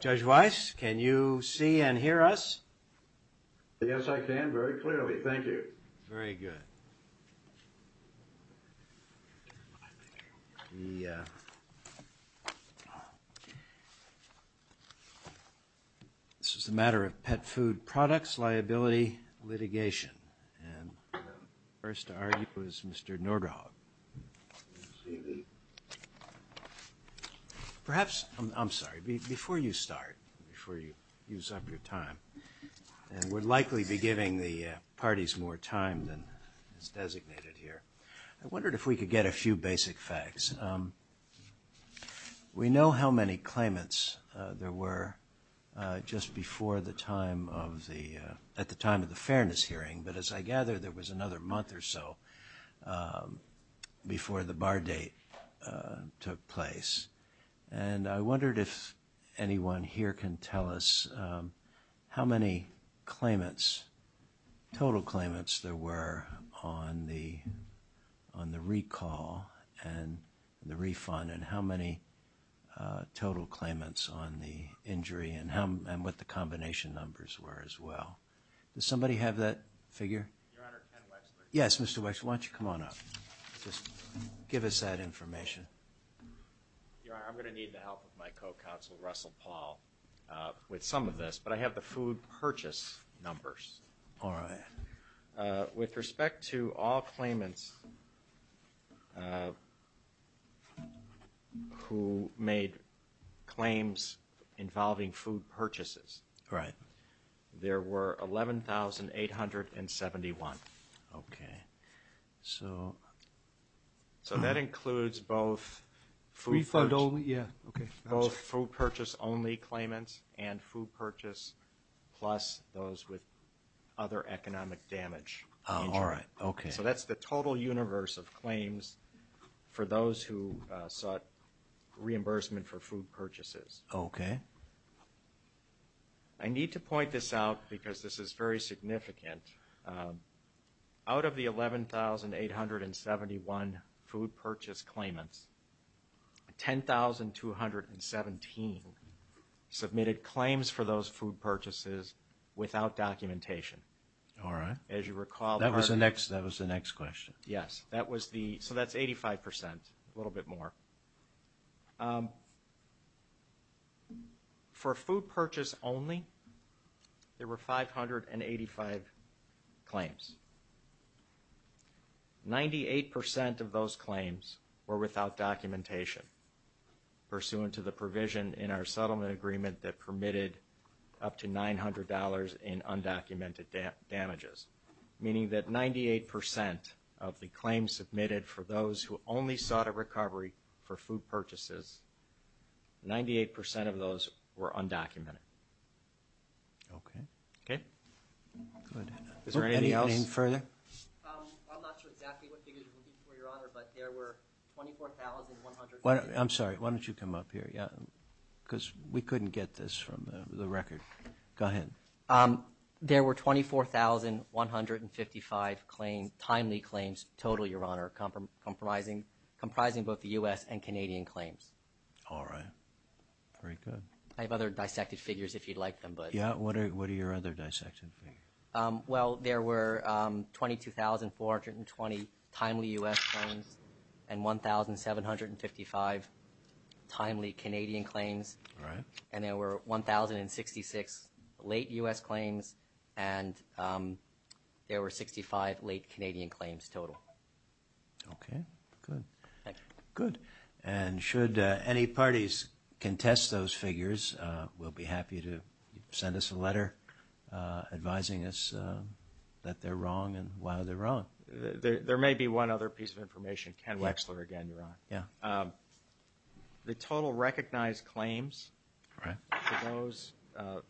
Judge Weiss, can you see and hear us? Yes, I can very clearly. Thank you. Very good. This is a matter of Pet Food Products Liability Litigation. First to argue is Mr. Norderhoff. Perhaps, I'm sorry, before you start, before you use up your time, and we'll likely be giving the parties more time than is designated here, I wondered if we could get a few basic facts. We know how many claimants there were just before the time of the, at the time of the fairness hearing, but as I gather, there was another month or so before the bar date took place. And I wondered if anyone here can tell us how many claimants, total claimants there were on the recall and the refund, and how many total claimants on the injury and what the combination numbers were as well. Does somebody have that figure? Yes, Mr. Weiss, why don't you come on up? Just give us that information. Your Honor, I'm going to need the help of my co-counsel, Russell Paul, with some of this, but I have the food purchase numbers. All right. With respect to all claimants who made claims involving food purchases, there were 11,871. Okay. So that includes both food purchase only claimants and food purchase plus those with other economic damage. All right. Okay. So that's the total universe of claims for those who sought reimbursement for food purchases. Okay. I need to point this out because this is very significant. Out of the 11,871 food purchase claimants, 10,217 submitted claims for those food purchases without documentation. All right. That was the next question. Yes. So that's 85 percent, a little bit more. For food purchase only, there were 585 claims. Ninety-eight percent of those claims were without documentation pursuant to the provision in our settlement agreement that permitted up to $900 in undocumented damages, meaning that 98 percent of the claims submitted for those who only sought a recovery for food purchases, 98 percent of those were undocumented. Okay. Good. Is there anything else? Go ahead. I'm not sure exactly what you mean, Your Honor, but there were 24,155. I'm sorry. Why don't you come up here? Because we couldn't get this from the record. Go ahead. There were 24,155 timely claims total, Your Honor, comprising both the U.S. and Canadian claims. All right. Very good. I have other dissected Well, there were 22,420 timely U.S. claims and 1,755 timely Canadian claims. All right. And there were 1,066 late U.S. claims and there were 65 late Canadian claims total. Okay. Good. Good. And should any parties contest those figures, we'll be happy to send us a letter advising us that they're wrong and why they're wrong. There may be one other piece of information. Ken Wexler again, Your Honor. Yeah. The total recognized claims for those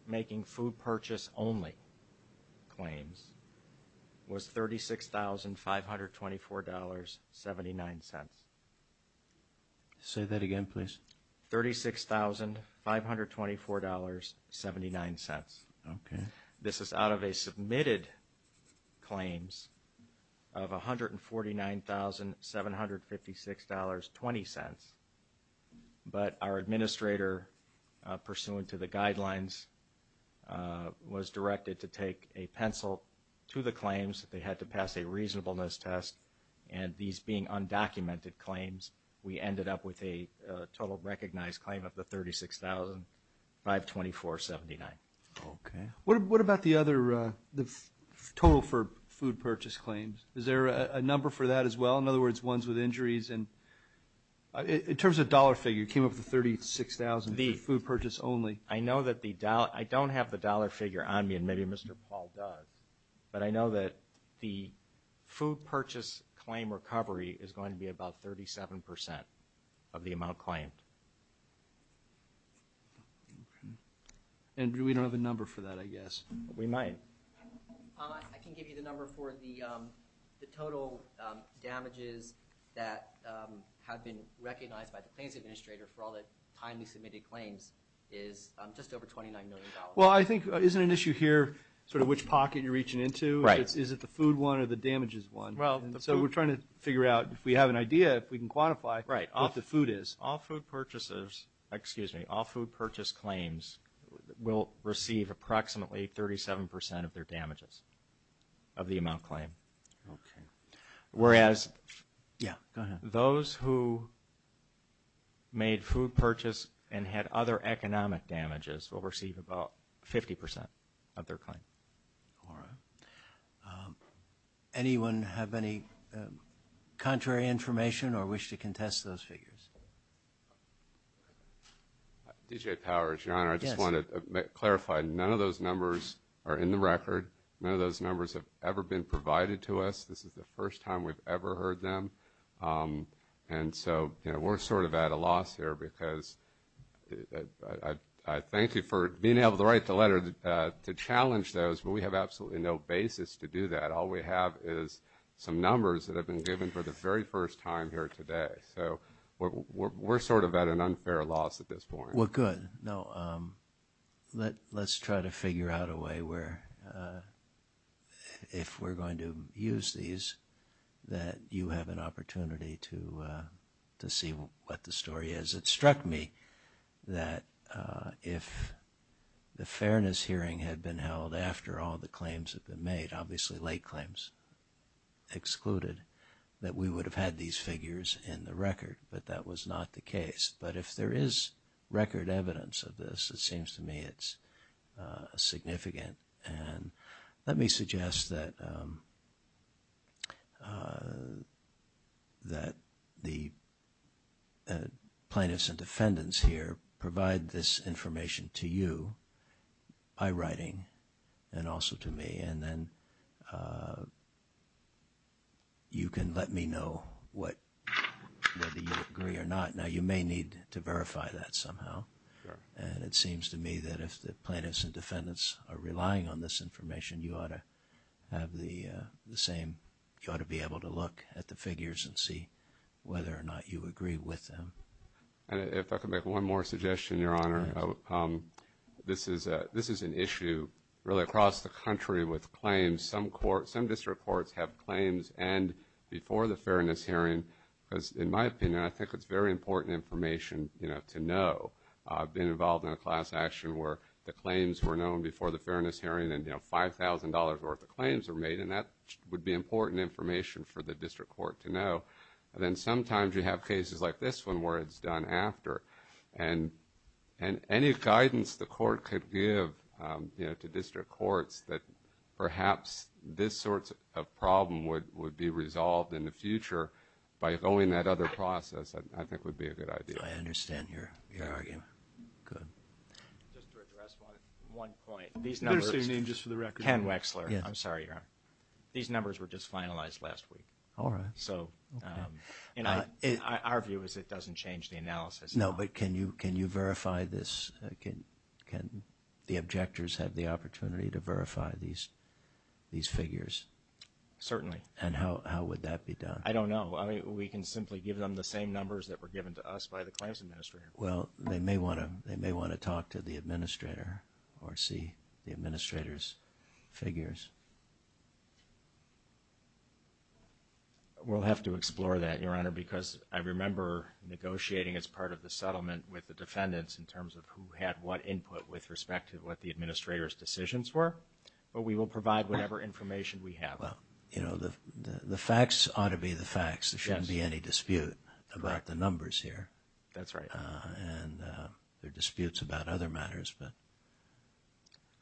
making food purchase only claims was $36,524.79. Say that again, please. $36,524.79. Okay. This is out of a submitted claims of $149,756.20. But our administrator, pursuant to the guidelines, was directed to take a pencil to the claims. They had to pass a reasonableness test. And these being undocumented claims, we ended up with a total recognized claim of the $36,524.79. Okay. What about the other total for food purchase claims? Is there a number for that as well? In other words, ones with injuries? In terms of dollar figure, it came up to $36,000 for food purchase only. I don't have the dollar figure on me, and maybe Mr. Paul does, but I know that the food purchase claim recovery is going to be about 37% of the amount claimed. And we don't have a number for that, I guess. We might. I can give you the number for the total damages that have been recognized by the claims administrator for all the timely submitted claims is just over $29 million. Well, I think isn't an issue here sort of which pocket you're reaching into? Is it the food one or the damages one? So we're trying to figure out, if we have an idea, if we can quantify what the food is. All food purchase claims will receive approximately 37% of their damages of the amount claimed, whereas those who made food purchase and had other economic damages will receive about 50% of their claim. Anyone have any contrary information or wish to contest those figures? D.J. Powers, your Honor, I just want to clarify. None of those numbers are in the record. None of those numbers have ever been provided to us. This is the first time we've ever heard them. And so we're sort of at a loss here, because I thank you for being able to write the letter to challenge those, but we have absolutely no basis to do that. All we have is some numbers that have been given for the very first time here today. So we're sort of at an unfair loss at this point. Well, good. Let's try to figure out a way where, if we're going to use these, that you have an opportunity to see what the story is. It struck me that if the fairness hearing had been held after all the claims had been made, obviously late claims excluded, that we would have had these figures in the record. But that was not the case. But if there is record evidence of this, it seems to me it's significant. And let me suggest that the plaintiffs and defendants here provide this information to you by writing and also to me, and then you can let me know whether you agree or not. Now, you may need to verify that somehow. And it seems to me that if the plaintiffs and defendants are relying on this information, you ought to have the same – you ought to be aware of this information. If I could make one more suggestion, Your Honor. This is an issue really across the country with claims. Some district courts have claims and before the fairness hearing. In my opinion, I think it's very important information to know. I've been involved in a class action where the claims were known before the fairness hearing and $5,000 worth of claims were made. And that would be important information for the district court to know. And then sometimes you have cases like this one where it's done after. And any guidance the court could give to district courts that perhaps this sort of problem would be resolved in the future by going that other process, I think would be a good idea. I understand your argument. One point. These numbers – Ken Wexler. I'm sorry, Your Honor. These numbers were just finalized last week. All right. Our view is it doesn't change the analysis. No, but can you verify this? Can the objectors have the opportunity to verify these figures? Certainly. And how would that be done? I don't know. We can simply give them the same numbers that were given to us by the claims administrator. Well, they may want to talk to the administrator or see the administrator's figures. We'll have to explore that, Your Honor, because I remember negotiating as part of the settlement with the defendants in terms of who had what input with respect to what the administrator's decisions were. But we will provide whatever information we have. The facts ought to be the facts. There shouldn't be any dispute about the numbers here. That's right. And there are disputes about other matters.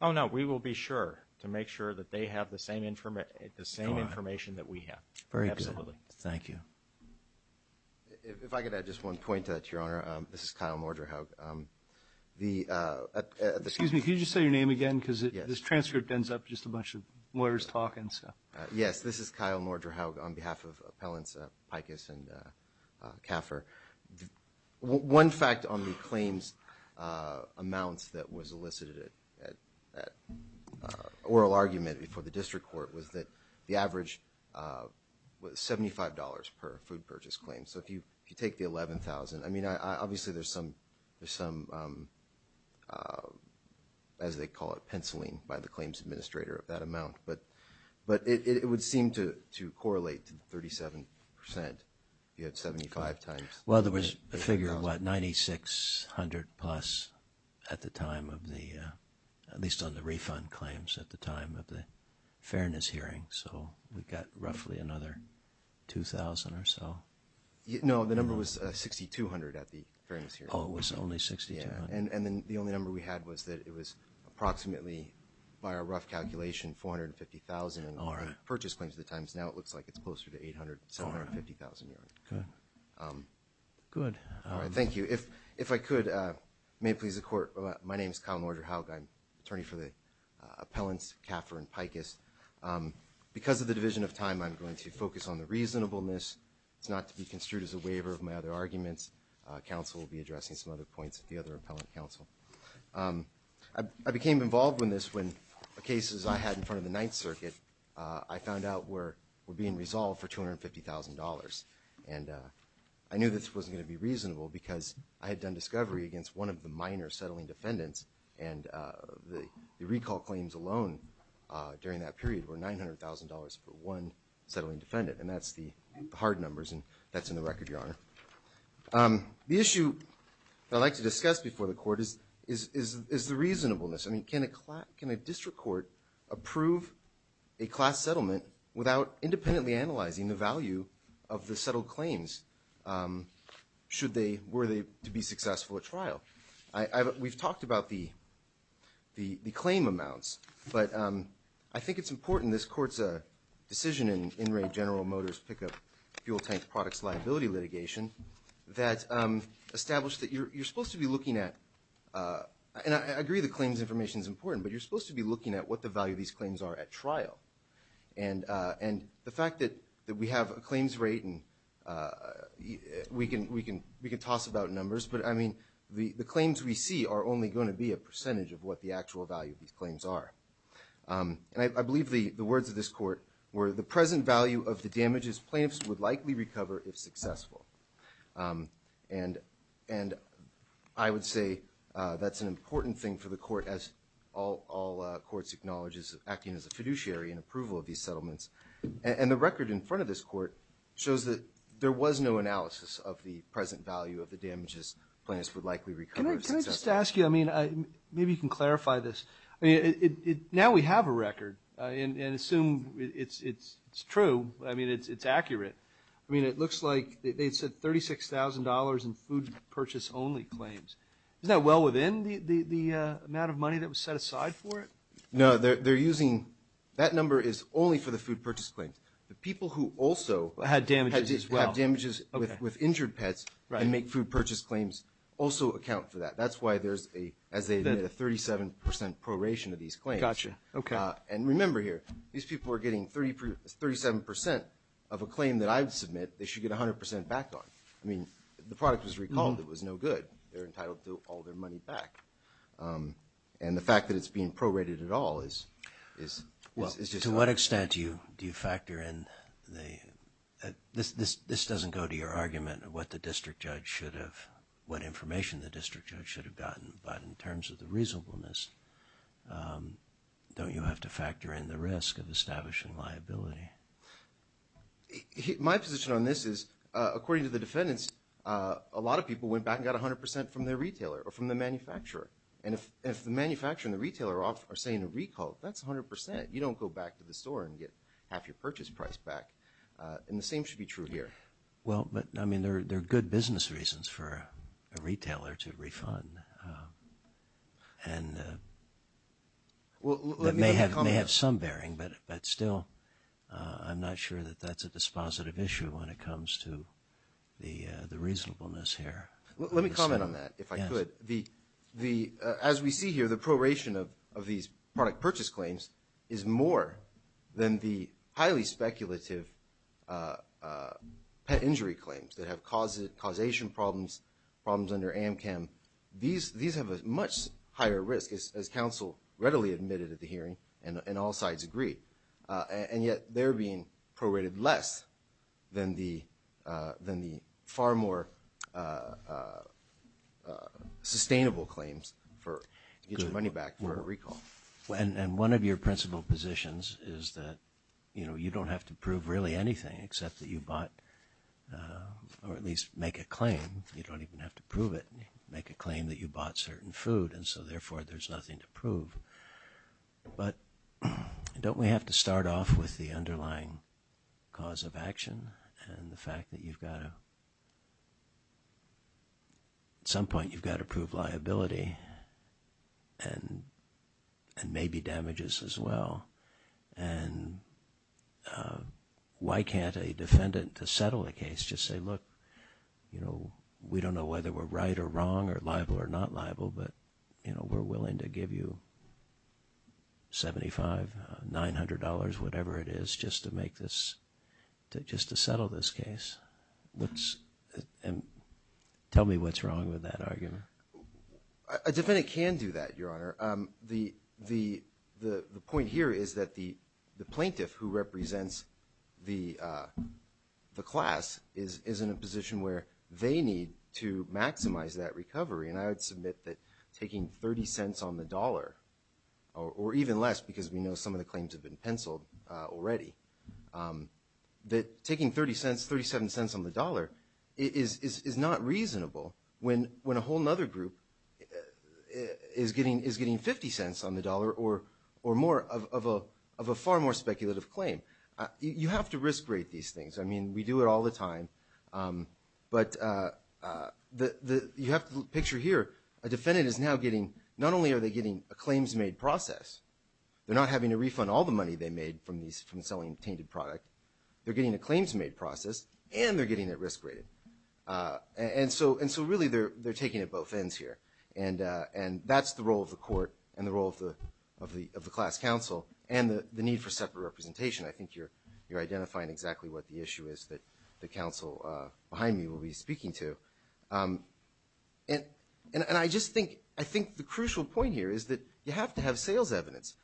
Oh, no. We will be sure to make sure that they have the same information that we have. Very good. Thank you. If I could add just one point to that, Your Honor. This is Kyle Morderhough. Excuse me. Can you just say your name again? Because this transcript ends up just a bunch of lawyers talking. Yes. This is Kyle Morderhough on behalf of appellants Icus and Caffer. One fact on the claims amounts that was elicited at that oral argument before the district court was that the average was $75 per food purchase claim. So if you take the $11,000, I mean, obviously, there's some, as they call it, penciling by the claims administrator of that amount. But it would seem to correlate to 37%. You had 75 times. Well, there was a figure of, what, $9,600 plus at the time of the, at least on the refund claims at the time of the fairness hearing. So we've got roughly another $2,000 or so. No, the number was $6,200 at the fairness hearing. Oh, it was only $6,200. And the only number we had was that it was approximately, by our rough calculation, $450,000 in purchase claims at the time. Now it looks like it's closer to $800,000, $750,000, Your Honor. Good. Thank you. If I could, may it please the Court, my name is Kyle Morderhough. I'm attorney for the appellants Caffer and Pikus. Because of the division of time, I'm going to focus on the reasonableness. It's not to be construed as a waiver of my other arguments. Counsel will be addressing some other points at the other appellant counsel. I became involved in this when the cases I had in front of the Ninth Circuit, I found out, were being resolved for $250,000. And I knew this wasn't going to be reasonable because I had done discovery against one of the minor settling defendants, and the recall claims alone during that period were $900,000 for one settling defendant. And that's the hard numbers, and that's in the record, Your Honor. The issue I'd like to discuss before the Court is the reasonableness. I mean, can a district court approve a class settlement without independently analyzing the value of the settled claims? Were they to be successful at trial? We've talked about the claim amounts, but I think it's important. This Court's decision in In Re General Motors pickup fuel tank products liability litigation that established that you're supposed to be looking at – and I agree the claims information is important, but you're supposed to be looking at what the value of these claims are at trial. And the fact that we have a claims rate and we can toss about numbers, but I mean the claims we see are only going to be a percentage of what the actual value of these claims are. I believe the words of this Court were, the present value of the damages claims would likely recover if successful. And I would say that's an important thing for the Court, as all courts acknowledge, is acting as a fiduciary in approval of these settlements. And the record in front of this Court shows that there was no analysis of the present value of the damages claims would likely recover. Can I just ask you, I mean, maybe you can clarify this. Now we have a record, and assume it's true, I mean it's accurate. I mean it looks like they said $36,000 in food purchase only claims. Isn't that well within the amount of money that was set aside for it? No, they're using – that number is only for the food purchase claims. The people who also had damages with injured pets and make food purchase claims also account for that. That's why there's a 37% proration of these claims. Gotcha, okay. And remember here, these people are getting 37% of a claim that I would submit they should get 100% back on. I mean, the product was recalled, it was no good. They're entitled to all their money back. And the fact that it's being prorated at all is – To what extent do you factor in the – this doesn't go to your argument of what the district judge should have – what information the district judge should have gotten, but in terms of the reasonableness, don't you have to factor in the risk of establishing liability? My position on this is, according to the defendants, a lot of people went back and got 100% from their retailer or from the manufacturer. And if the manufacturer and the retailer are saying recall, that's 100%. You don't go back to the store and get half your purchase price back. And the same should be true here. Well, but I mean there are good business reasons for a retailer to refund. And it may have some bearing, but still I'm not sure that that's a dispositive issue when it comes to the reasonableness here. Let me comment on that, if I could. As we see here, the proration of these product purchase claims is more than the highly speculative injury claims that have causation problems under AMCAM. These have a much higher risk, as counsel readily admitted at the hearing, and all sides agreed. And yet they're being prorated less than the far more sustainable claims for either running back or recall. And one of your principal positions is that you don't have to prove really anything except that you bought or at least make a claim. You don't even have to prove it. You can make a claim that you bought certain food, and so therefore there's nothing to prove. But don't we have to start off with the underlying cause of action and the fact that you've got to – and maybe damages as well. And why can't a defendant settle a case, just say, look, we don't know whether we're right or wrong or liable or not liable, but we're willing to give you $75, $900, whatever it is, just to make this – just to settle this case. And tell me what's wrong with that argument. A defendant can do that, Your Honor. The point here is that the plaintiff who represents the class is in a position where they need to maximize that recovery. And I would submit that taking 30 cents on the dollar, or even less because we know some of the claims have been penciled already, that taking 30 cents, 37 cents on the dollar is not reasonable when a whole other group is getting 50 cents on the dollar or more of a far more speculative claim. You have to risk rate these things. I mean, we do it all the time. But you have to picture here, a defendant is now getting – not only are they getting a claims-made process, they're not having to refund all the money they made from selling a tainted product, they're getting a claims-made process, and they're getting it risk rated. And so really they're taking it both ends here. And that's the role of the court and the role of the class counsel and the need for separate representation. I think you're identifying exactly what the issue is that the counsel behind me will be speaking to. And I just think the crucial point here is that you have to have sales evidence.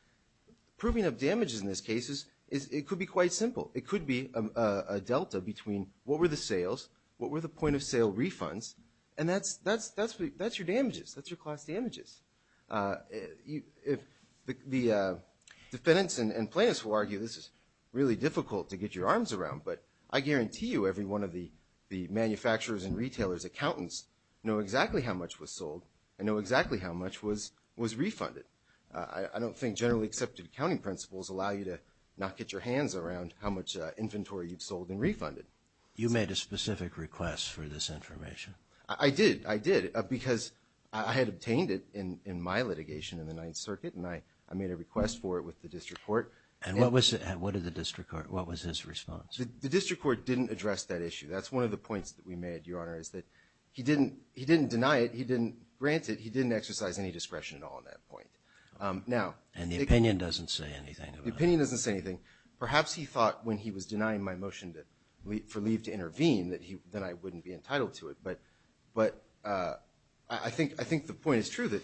Proving of damages in this case, it could be quite simple. It could be a delta between what were the sales, what were the point-of-sale refunds, and that's your damages. That's your cost damages. The defendants and plaintiffs will argue this is really difficult to get your arms around, but I guarantee you every one of the manufacturers and retailers, accountants, know exactly how much was sold and know exactly how much was refunded. I don't think generally accepted accounting principles allow you to not get your hands around how much inventory you've sold and refunded. You made a specific request for this information. I did. I did. Because I had obtained it in my litigation in the Ninth Circuit, and I made a request for it with the district court. And what did the district court – what was his response? The district court didn't address that issue. That's one of the points that we made, Your Honor, is that he didn't deny it. He didn't grant it. He didn't exercise any discretion at all at that point. And the opinion doesn't say anything. The opinion doesn't say anything. Perhaps he thought when he was denying my motion for leave to intervene that I wouldn't be entitled to it. But I think the point is true that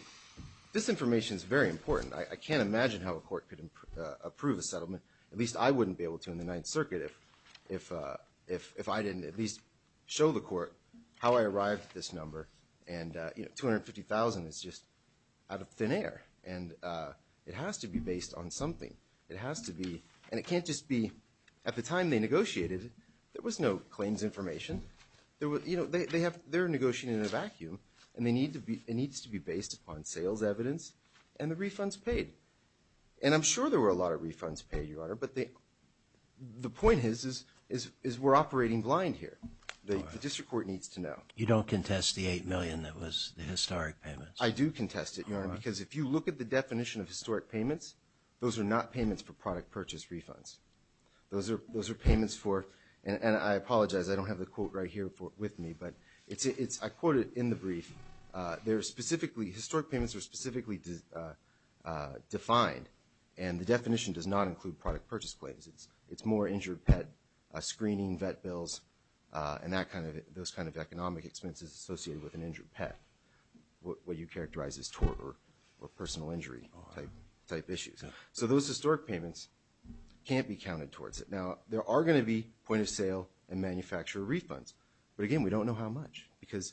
this information is very important. I can't imagine how a court could approve a settlement. At least I wouldn't be able to in the Ninth Circuit if I didn't at least show the court how I arrived at this number. And, you know, $250,000 is just out of thin air. And it has to be based on something. It has to be – and it can't just be – at the time they negotiated, there was no claims information. You know, they're negotiating in a vacuum, and it needs to be based upon sales evidence and the refunds paid. And I'm sure there were a lot of refunds paid, Your Honor, but the point is we're operating blind here. The district court needs to know. You don't contest the $8 million that was the historic payments? I do contest it, Your Honor, because if you look at the definition of historic payments, those are not payments for product purchase refunds. Those are payments for – and I apologize, I don't have the quote right here with me, but I quote it in the brief. They're specifically – historic payments are specifically defined, and the definition does not include product purchase claims. It's more injured pet screening, vet bills, and that kind of – those kind of economic expenses associated with an injured pet, what you characterize as tort or personal injury-type issues. So those historic payments can't be counted towards it. Now, there are going to be point-of-sale and manufacturer refunds. But again, we don't know how much because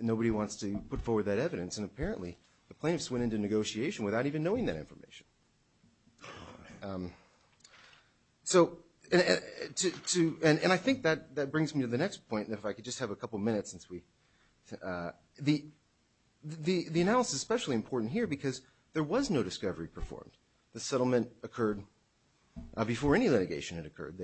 nobody wants to put forward that evidence, and apparently the plaintiffs went into negotiation without even knowing that information. So – and I think that brings me to the next point, and if I could just have a couple minutes since we – the analysis is especially important here because there was no discovery performed. The settlement occurred before any litigation had occurred.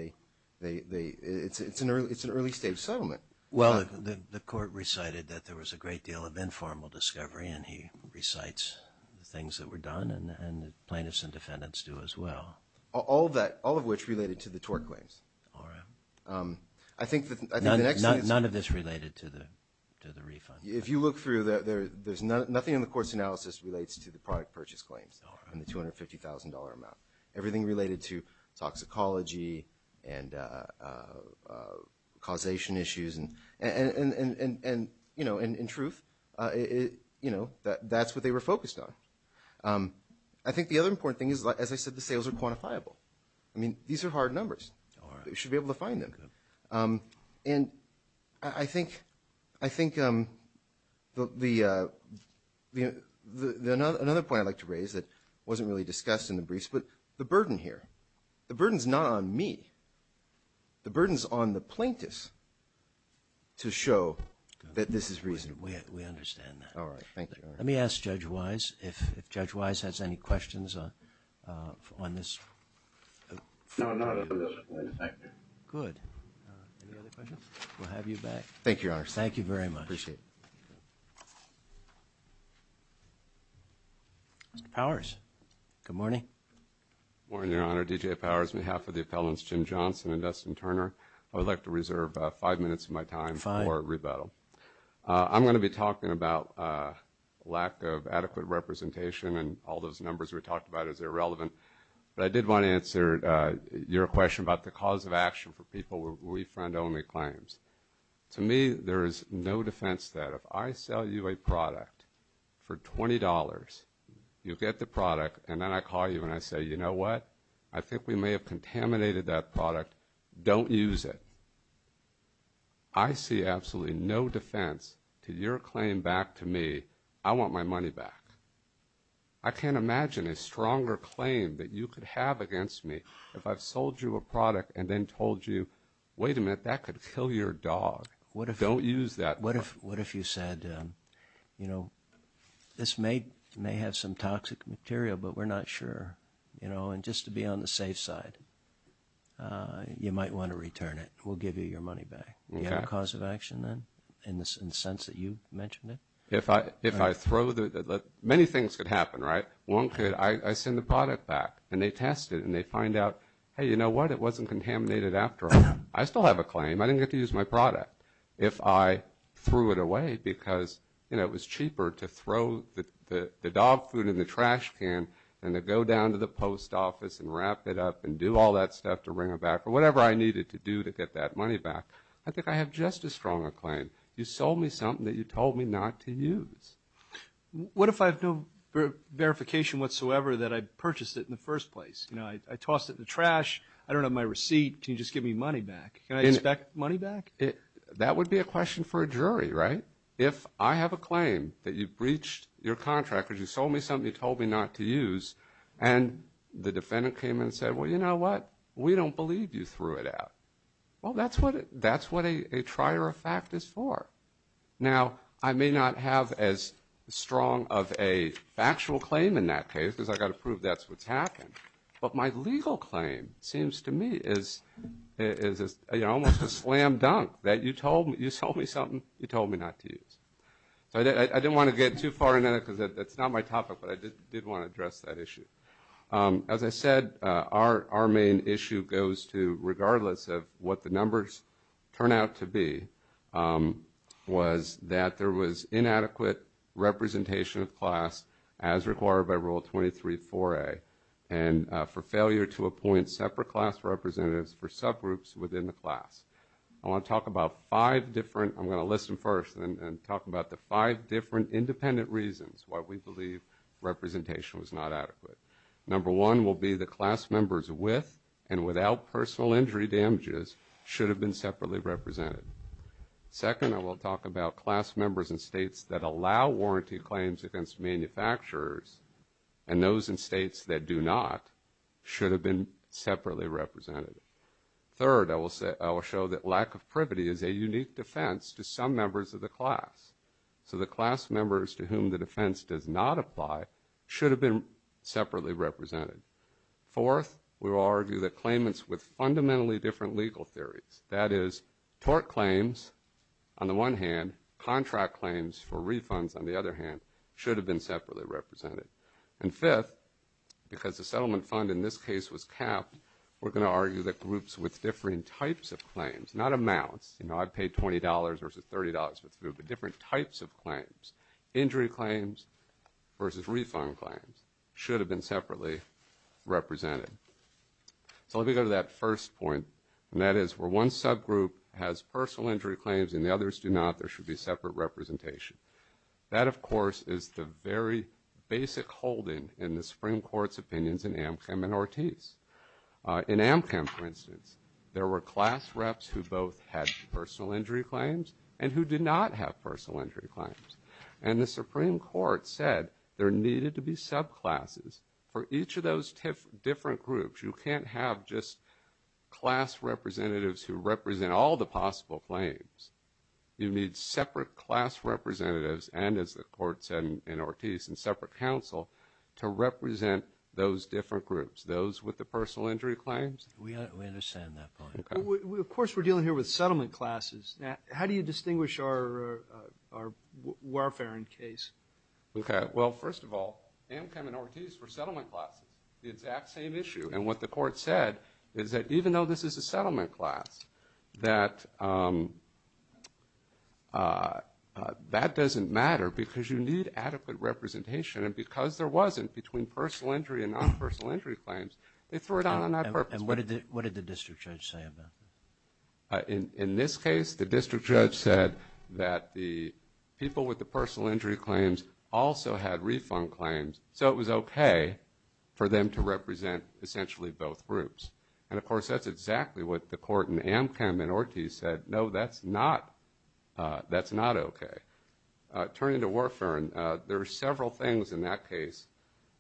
It's an early-stage settlement. Well, the court recited that there was a great deal of informal discovery, and he recites the things that were done, and the plaintiffs and defendants do as well. All that – all of which related to the tort claims. All right. I think that – None of this related to the refund. If you look through, there's – nothing in the court's analysis relates to the product purchase claims and the $250,000 amount. Everything related to toxicology and causation issues and, you know, in truth, you know, that's what they were focused on. I think the other important thing is, as I said, the sales are quantifiable. I mean, these are hard numbers. We should be able to find them. And I think – I think the – another point I'd like to raise that wasn't really discussed in the briefs, but the burden here. The burden's not on me. The burden's on the plaintiffs to show that this is reasonable. We understand that. All right. Thank you. Let me ask Judge Wise if Judge Wise has any questions on this. No, not at this point. Good. Any other questions? We'll have you back. Thank you, Your Honor. Thank you very much. Appreciate it. Mr. Powers. Good morning. Good morning, Your Honor. D.J. Powers, on behalf of the appellants Jim Johnson and Dustin Turner. I would like to reserve five minutes of my time for rebuttal. I'm going to be talking about lack of adequate representation, and all those numbers you were talking about is irrelevant. But I did want to answer your question about the cause of action for people with refund-only claims. To me, there is no defense to that. If I sell you a product for $20, you get the product, and then I call you and I say, you know what? I think we may have contaminated that product. Don't use it. I see absolutely no defense to your claim back to me. I want my money back. I can't imagine a stronger claim that you could have against me if I sold you a product and then told you, wait a minute, that could kill your dog. Don't use that. What if you said, you know, this may have some toxic material, but we're not sure. You know, and just to be on the safe side, you might want to return it. We'll give you your money back. Is there a cause of action then in the sense that you mentioned it? If I throw the – many things could happen, right? One could – I send the product back, and they test it, and they find out, hey, you know what? It wasn't contaminated after all. I still have a claim. I didn't get to use my product. If I threw it away because, you know, it was cheaper to throw the dog food in the trash can than to go down to the post office and wrap it up and do all that stuff to bring it back or whatever I needed to do to get that money back, I think I have just as strong a claim. You sold me something that you told me not to use. What if I have no verification whatsoever that I purchased it in the first place? You know, I tossed it in the trash. I don't have my receipt. Can you just give me money back? Can I get that money back? That would be a question for a jury, right? If I have a claim that you breached your contract or you sold me something you told me not to use, and the defendant came in and said, well, you know what? We don't believe you threw it out. Well, that's what a trier of fact is for. Now, I may not have as strong of a factual claim in that case because I've got to prove that's what happened, but my legal claim seems to me is, you know, almost a slam dunk that you sold me something you told me not to use. I didn't want to get too far in there because that's not my topic, but I did want to address that issue. As I said, our main issue goes to, regardless of what the numbers turn out to be, was that there was inadequate representation of class as required by Rule 23-4A and for failure to appoint separate class representatives for subgroups within the class. I want to talk about five different – I'm going to listen first and talk about the five different independent reasons why we believe representation was not adequate. Number one will be the class members with and without personal injury damages should have been separately represented. Second, I will talk about class members in states that allow warranty claims against manufacturers and those in states that do not should have been separately represented. Third, I will show that lack of privity is a unique defense to some members of the class, so the class members to whom the defense does not apply should have been separately represented. Fourth, we will argue that claimants with fundamentally different legal theories, that is, tort claims on the one hand, contract claims for refunds on the other hand, should have been separately represented. And fifth, because the settlement fund in this case was capped, we're going to argue that groups with differing types of claims, not amounts, you know, I paid $20 versus $30 for food, but different types of claims, injury claims versus refund claims, should have been separately represented. So let me go to that first point, and that is where one subgroup has personal injury claims and the others do not, there should be separate representation. That, of course, is the very basic holding in the Supreme Court's opinions in Amcam and Ortiz. In Amcam, for instance, there were class reps who both had personal injury claims and who did not have personal injury claims. And the Supreme Court said there needed to be subclasses for each of those different groups. You can't have just class representatives who represent all the possible claims. You need separate class representatives and, as the court said in Ortiz, and separate counsel to represent those different groups, those with the personal injury claims. We understand that point. Of course, we're dealing here with settlement classes. How do you distinguish our warfare in case? Okay, well, first of all, Amcam and Ortiz were settlement classes, the exact same issue. And what the court said is that even though this is a settlement class, that that doesn't matter because you need adequate representation. And because there wasn't between personal injury and non-personal injury claims, they threw it out on that purpose. And what did the district judge say about that? In this case, the district judge said that the people with the personal injury claims also had refund claims, so it was okay for them to represent essentially both groups. And, of course, that's exactly what the court in Amcam and Ortiz said. No, that's not okay. Turning to warfare, there are several things in that case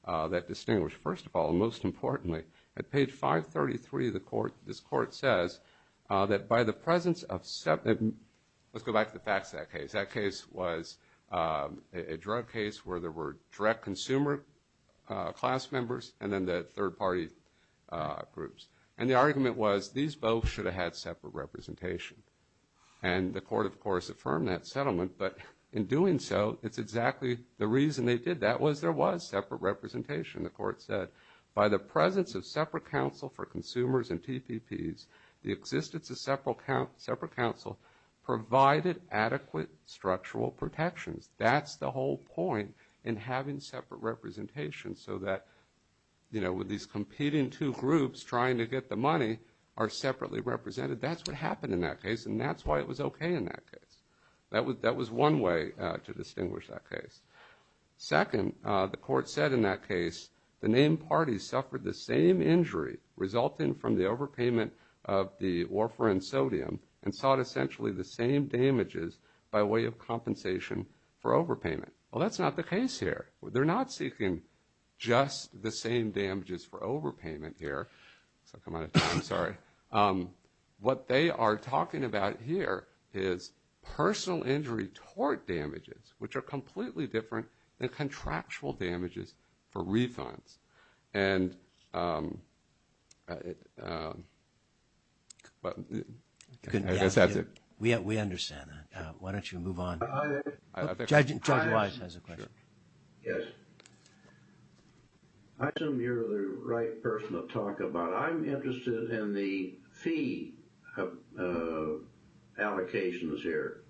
that distinguish. First of all, most importantly, at page 533 of the court, this court says that by the presence of sep – let's go back to the facts of that case. That case was a drug case where there were direct consumer class members and then the third-party groups. And the argument was these both should have had separate representation. And the court, of course, affirmed that settlement. But in doing so, it's exactly the reason they did that was there was separate representation. The court said, by the presence of separate counsel for consumers and TPPs, the existence of separate counsel provided adequate structural protection. That's the whole point in having separate representation so that, you know, with these competing two groups trying to get the money are separately represented. That's what happened in that case, and that's why it was okay in that case. That was one way to distinguish that case. Second, the court said in that case the named parties suffered the same injury resulting from the overpayment of the warfare and sodium and sought essentially the same damages by way of compensation for overpayment. Well, that's not the case here. They're not seeking just the same damages for overpayment here. I'm sorry. What they are talking about here is personal injury tort damages, which are completely different than contractual damages for refunds. And we understand that. Why don't you move on? Judge Wise has a question. Yes. I assume you're the right person to talk about it. I'm interested in the fee allocations here.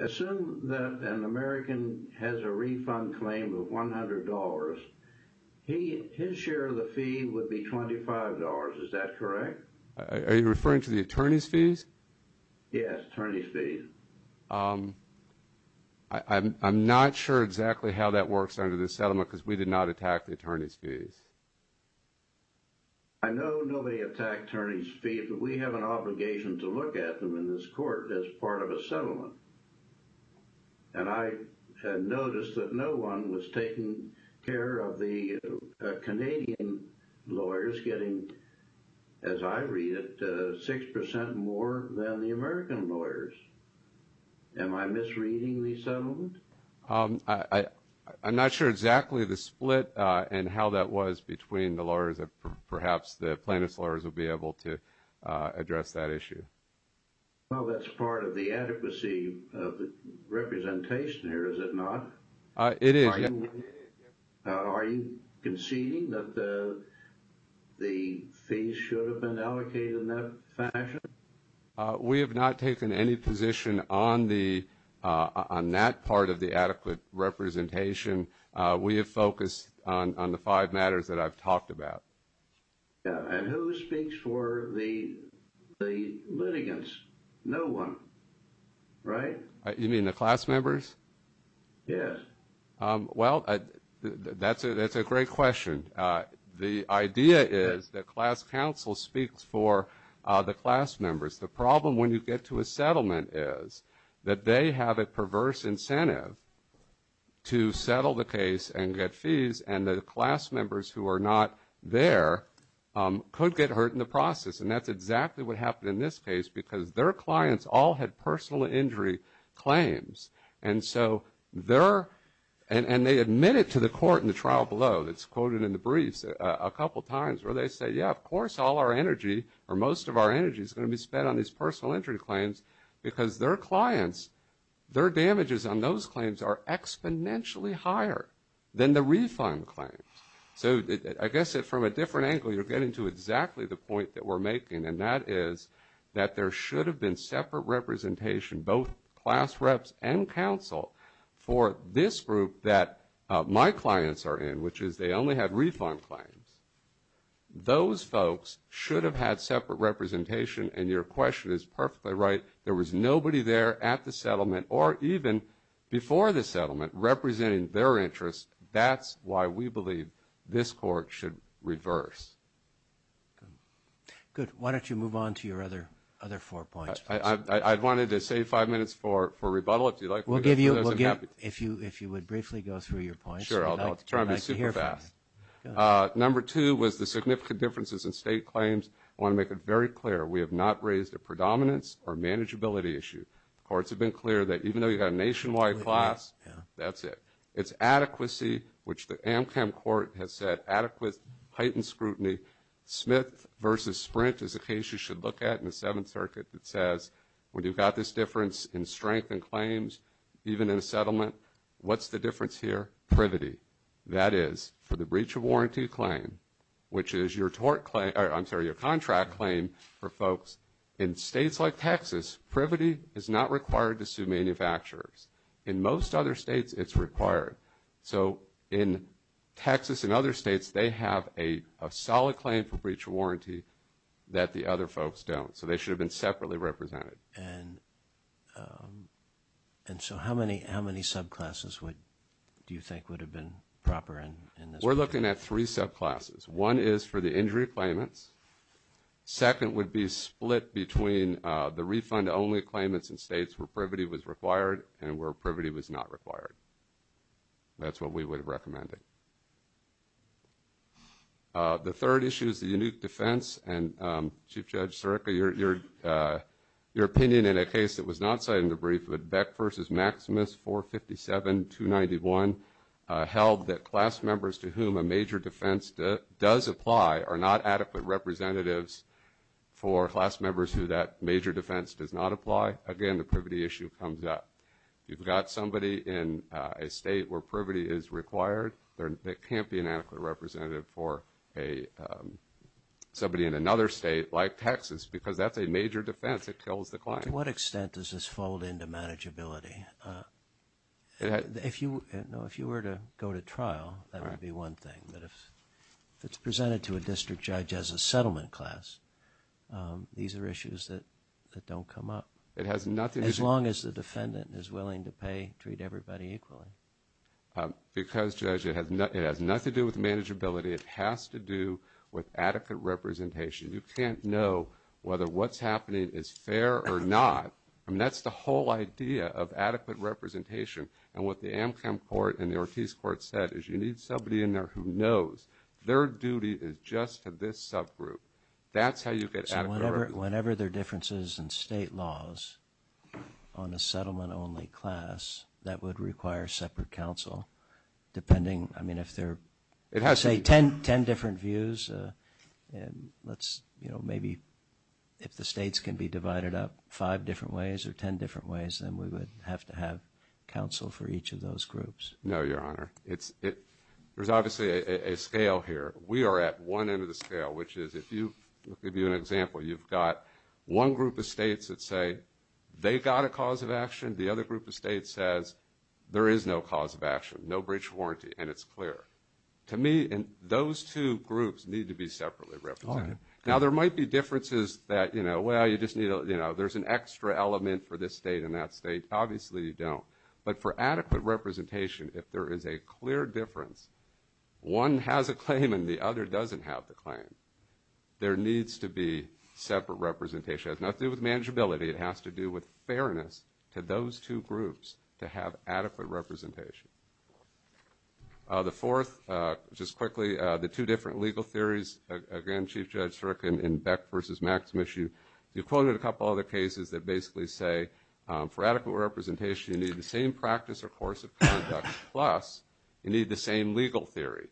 Assume that an American has a refund claim of $100. His share of the fee would be $25. Is that correct? Are you referring to the attorney's fees? Yes, attorney's fees. I'm not sure exactly how that works under the settlement because we did not attack the attorney's fees. I know nobody attacked attorney's fees, but we have an obligation to look at them in this court as part of a settlement. And I had noticed that no one was taking care of the Canadian lawyers, getting, as I read it, 6% more than the American lawyers. Am I misreading the settlement? I'm not sure exactly the split and how that was between the lawyers. Perhaps the plaintiff's lawyers will be able to address that issue. Well, that's part of the adequacy of the representation here, is it not? It is. Are you conceding that the fees should have been allocated in that fashion? We have not taken any position on that part of the adequate representation. We have focused on the five matters that I've talked about. And who speaks for the litigants? No one, right? You mean the class members? Yes. Well, that's a great question. The idea is the class counsel speaks for the class members. The problem when you get to a settlement is that they have a perverse incentive to settle the case and get fees, and the class members who are not there could get hurt in the process. And that's exactly what happened in this case because their clients all had personal injury claims. And so they're – and they admit it to the court in the trial below. It's quoted in the briefs a couple times where they say, yeah, of course all our energy or most of our energy is going to be spent on these personal injury claims because their clients, their damages on those claims are exponentially higher than the refund claims. So I guess from a different angle you're getting to exactly the point that we're making, and that is that there should have been separate representation, both class reps and counsel, for this group that my clients are in, which is they only had refund claims. Those folks should have had separate representation, and your question is perfectly right. There was nobody there at the settlement or even before the settlement representing their interest. That's why we believe this court should reverse. Good. Why don't you move on to your other four points? I wanted to save five minutes for rebuttal. We'll give you – if you would briefly go through your points. Sure, I'll try to be super fast. Number two was the significant differences in state claims. I want to make it very clear we have not raised a predominance or manageability issue. The courts have been clear that even though you have a nationwide class, that's it. It's adequacy, which the AMCAM court has said adequate heightened scrutiny. Smith v. Sprint is a case you should look at in the Seventh Circuit that says, when you've got this difference in strength in claims, even in settlement, what's the difference here? Privity. Privity, that is, for the breach of warranty claim, which is your contract claim for folks. In states like Texas, privity is not required to sue manufacturers. In most other states, it's required. So in Texas and other states, they have a solid claim for breach of warranty that the other folks don't. So they should have been separately represented. And so how many subclasses do you think would have been proper in this case? We're looking at three subclasses. One is for the injury claimants. Second would be split between the refund-only claimants in states where privity was required and where privity was not required. That's what we would have recommended. The third issue is the unique defense. And, Chief Judge Sirica, your opinion in a case that was not cited in the brief, but Beck v. Maximus 457-291 held that class members to whom a major defense does apply are not adequate representatives for class members who that major defense does not apply. Again, the privity issue comes up. You've got somebody in a state where privity is required. That can't be an adequate representative for somebody in another state like Texas because that's a major defense that kills the client. To what extent does this fold into manageability? If you were to go to trial, that would be one thing. But if it's presented to a district judge as a settlement class, these are issues that don't come up. As long as the defendant is willing to pay and treat everybody equally. Because, Judge, it has nothing to do with manageability. It has to do with adequate representation. You can't know whether what's happening is fair or not. That's the whole idea of adequate representation. And what the Amcom Court and the Ortiz Court said is you need somebody in there who knows. Their duty is just to this subgroup. That's how you get adequate representation. Whenever there are differences in state laws on a settlement-only class, that would require separate counsel. I mean, if there are, say, ten different views, maybe if the states can be divided up five different ways or ten different ways, then we would have to have counsel for each of those groups. No, Your Honor. There's obviously a scale here. We are at one end of the scale, which is if you – I'll give you an example. You've got one group of states that say they've got a cause of action. The other group of states says there is no cause of action, no breach of warranty, and it's clear. To me, those two groups need to be separately represented. Now, there might be differences that, you know, well, you just need – you know, there's an extra element for this state and that state. Obviously, you don't. But for adequate representation, if there is a clear difference, one has a claim and the other doesn't have the claim, there needs to be separate representation. It has nothing to do with manageability. It has to do with fairness to those two groups to have adequate representation. The fourth, just quickly, the two different legal theories. Again, Chief Judge Strickland in Beck v. Maximus, you quoted a couple other cases that basically say for adequate representation you need the same practice or course of conduct plus you need the same legal theory.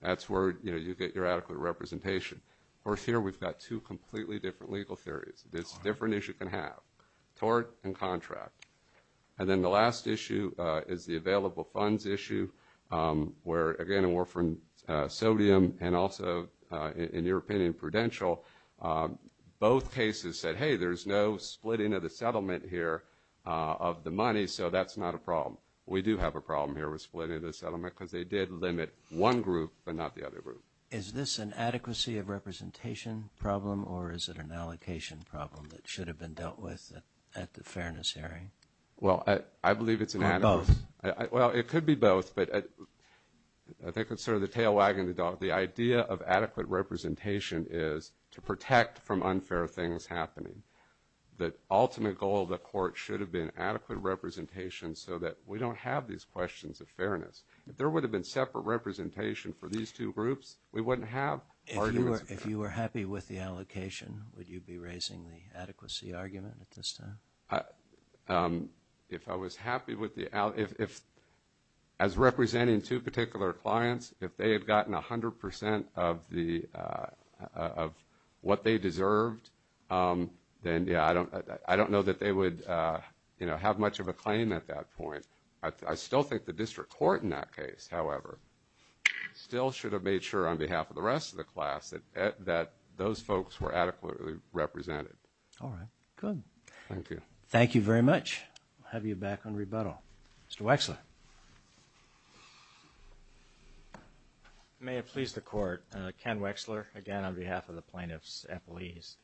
That's where, you know, you get your adequate representation. Of course, here we've got two completely different legal theories. It's as different as you can have, tort and contract. And then the last issue is the available funds issue where, again, sodium and also, in your opinion, prudential, both cases said, hey, there's no splitting of the settlement here of the money, so that's not a problem. We do have a problem here with splitting the settlement because they did limit one group but not the other group. Is this an adequacy of representation problem or is it an allocation problem that should have been dealt with at the fairness hearing? Well, I believe it's an adequacy. Or both? Well, it could be both, but I think it's sort of the tail wagging the dog. The idea of adequate representation is to protect from unfair things happening. The ultimate goal of the court should have been adequate representation so that we don't have these questions of fairness. If there would have been separate representation for these two groups, we wouldn't have arguments. If you were happy with the allocation, would you be raising the adequacy argument at this time? If I was happy with the allocation, as representing two particular clients, if they had gotten 100% of what they deserved, then, yeah, I don't know that they would have much of a claim at that point. I still think the district court in that case, however, still should have made sure on behalf of the rest of the class that those folks were adequately represented. All right. Good. Thank you. Thank you very much. We'll have you back on rebuttal. Mr. Wexler. May it please the court, Ken Wexler again on behalf of the plaintiff's employees.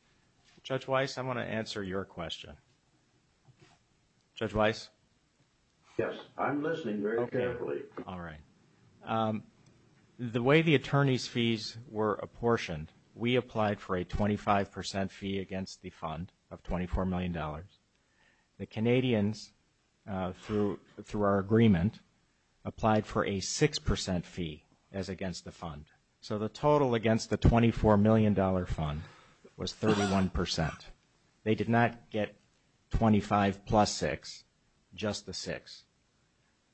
Judge Weiss, I want to answer your question. Judge Weiss? Yes, I'm listening very carefully. All right. The way the attorney's fees were apportioned, we applied for a 25% fee against the fund of $24 million. The Canadians, through our agreement, applied for a 6% fee as against the fund. So the total against the $24 million fund was 31%. They did not get 25 plus 6, just the 6.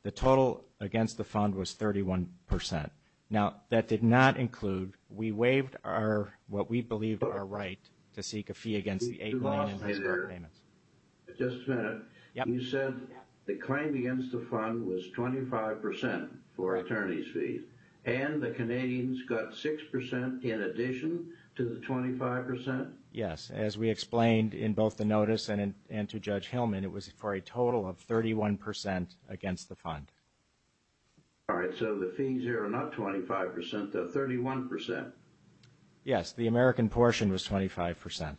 The total against the fund was 31%. Now, that did not include we waived what we believe is our right to seek a fee against the $8 million. Just a minute. You said the claim against the fund was 25% for attorney's fees, and the Canadians got 6% in addition to the 25%? Yes. As we explained in both the notice and to Judge Hillman, it was for a total of 31% against the fund. All right, so the fees here are not 25%, they're 31%. Yes, the American portion was 25%.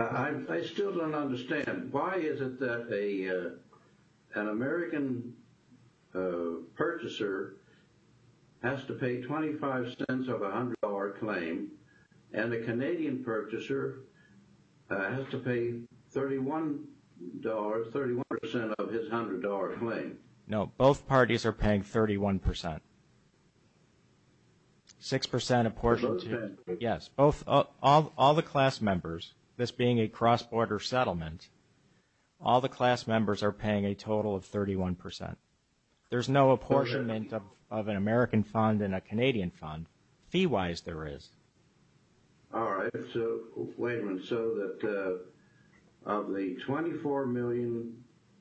I still don't understand. Why is it that an American purchaser has to pay 25 cents of a $100 claim and a Canadian purchaser has to pay $31, 31% of his $100 claim? No, both parties are paying 31%. 6% apportionment. Yes. All the class members, this being a cross-border settlement, all the class members are paying a total of 31%. There's no apportionment of an American fund and a Canadian fund. Fee-wise, there is. All right. So, wait a minute. So, of the $24 million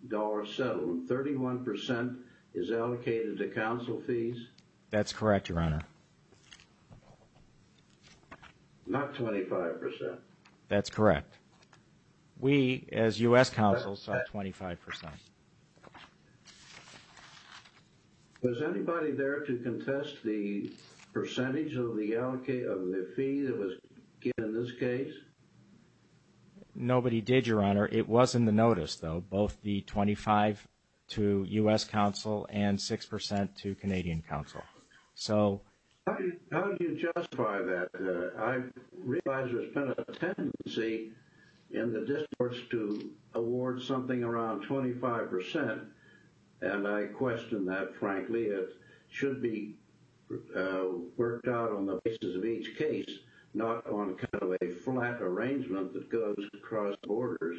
settlement, 31% is allocated to counsel fees? That's correct, Your Honor. Not 25%. That's correct. We, as U.S. counsels, sell 25%. Was anybody there to contest the percentage of the fee that was given in this case? Nobody did, Your Honor. It was in the notice, though, both the 25% to U.S. counsel and 6% to Canadian counsel. How do you justify that? I realize there's been a tendency in the districts to award something around 25%, and I question that, frankly. It should be worked out on the basis of each case, not on kind of a flat arrangement that goes across borders.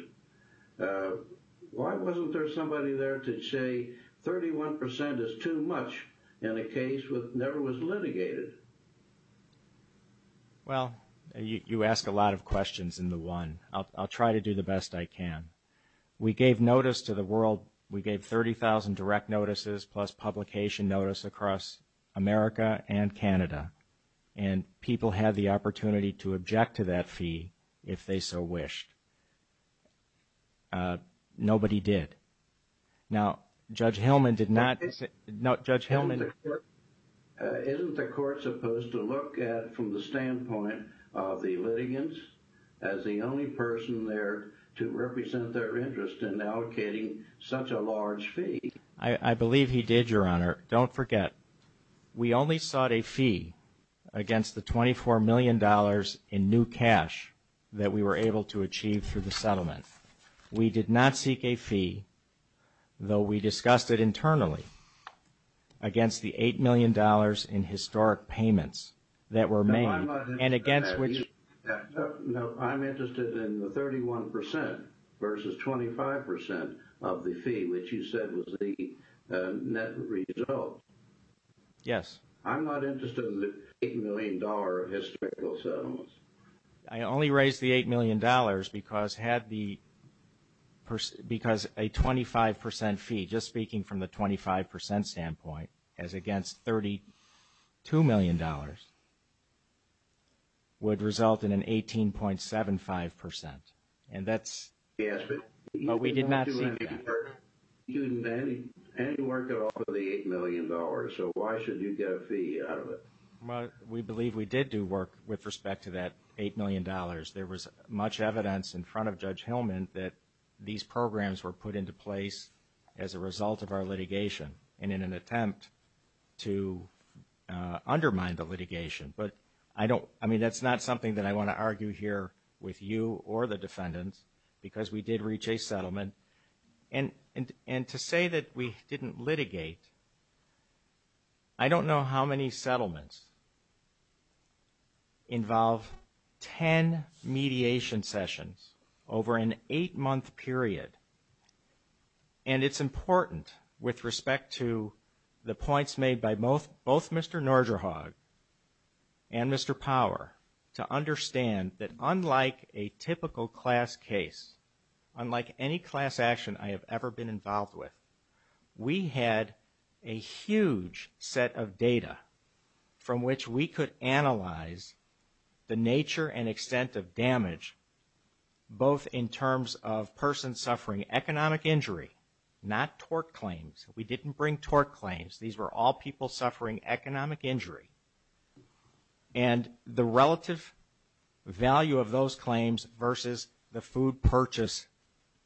Why wasn't there somebody there to say 31% is too much in a case that never was litigated? Well, you ask a lot of questions in the one. I'll try to do the best I can. We gave notice to the world. We gave 30,000 direct notices plus publication notice across America and Canada, and people had the opportunity to object to that fee if they so wished. Nobody did. Now, Judge Hillman did not... Isn't the court supposed to look at, from the standpoint of the litigants, as the only person there to represent their interest in allocating such a large fee? I believe he did, Your Honor. Don't forget, we only sought a fee against the $24 million in new cash that we were able to achieve through the settlement. We did not seek a fee, though we discussed it internally, against the $8 million in historic payments that were made. I'm not interested in that. No, I'm interested in the 31% versus 25% of the fee, which you said was the net result. Yes. I'm not interested in the $8 million of historical settlements. I only raised the $8 million because a 25% fee, just speaking from the 25% standpoint, as against $32 million, would result in an 18.75%. And that's... Yes, but... But we did not... You didn't do any work at all for the $8 million, so why should you get a fee out of it? Well, we believe we did do work with respect to that $8 million. There was much evidence in front of Judge Hillman that these programs were put into place as a result of our litigation. And in an attempt to undermine the litigation. But I don't... I mean, that's not something that I want to argue here with you or the defendants, because we did reach a settlement. And to say that we didn't litigate, I don't know how many settlements involve 10 mediation sessions over an eight-month period. And it's important, with respect to the points made by both Mr. Norderhaug and Mr. Power, to understand that unlike a typical class case, unlike any class action I have ever been involved with, we had a huge set of data from which we could analyze the nature and extent of damage, both in terms of persons suffering economic injury, not tort claims. We didn't bring tort claims. These were all people suffering economic injury. And the relative value of those claims versus the food purchase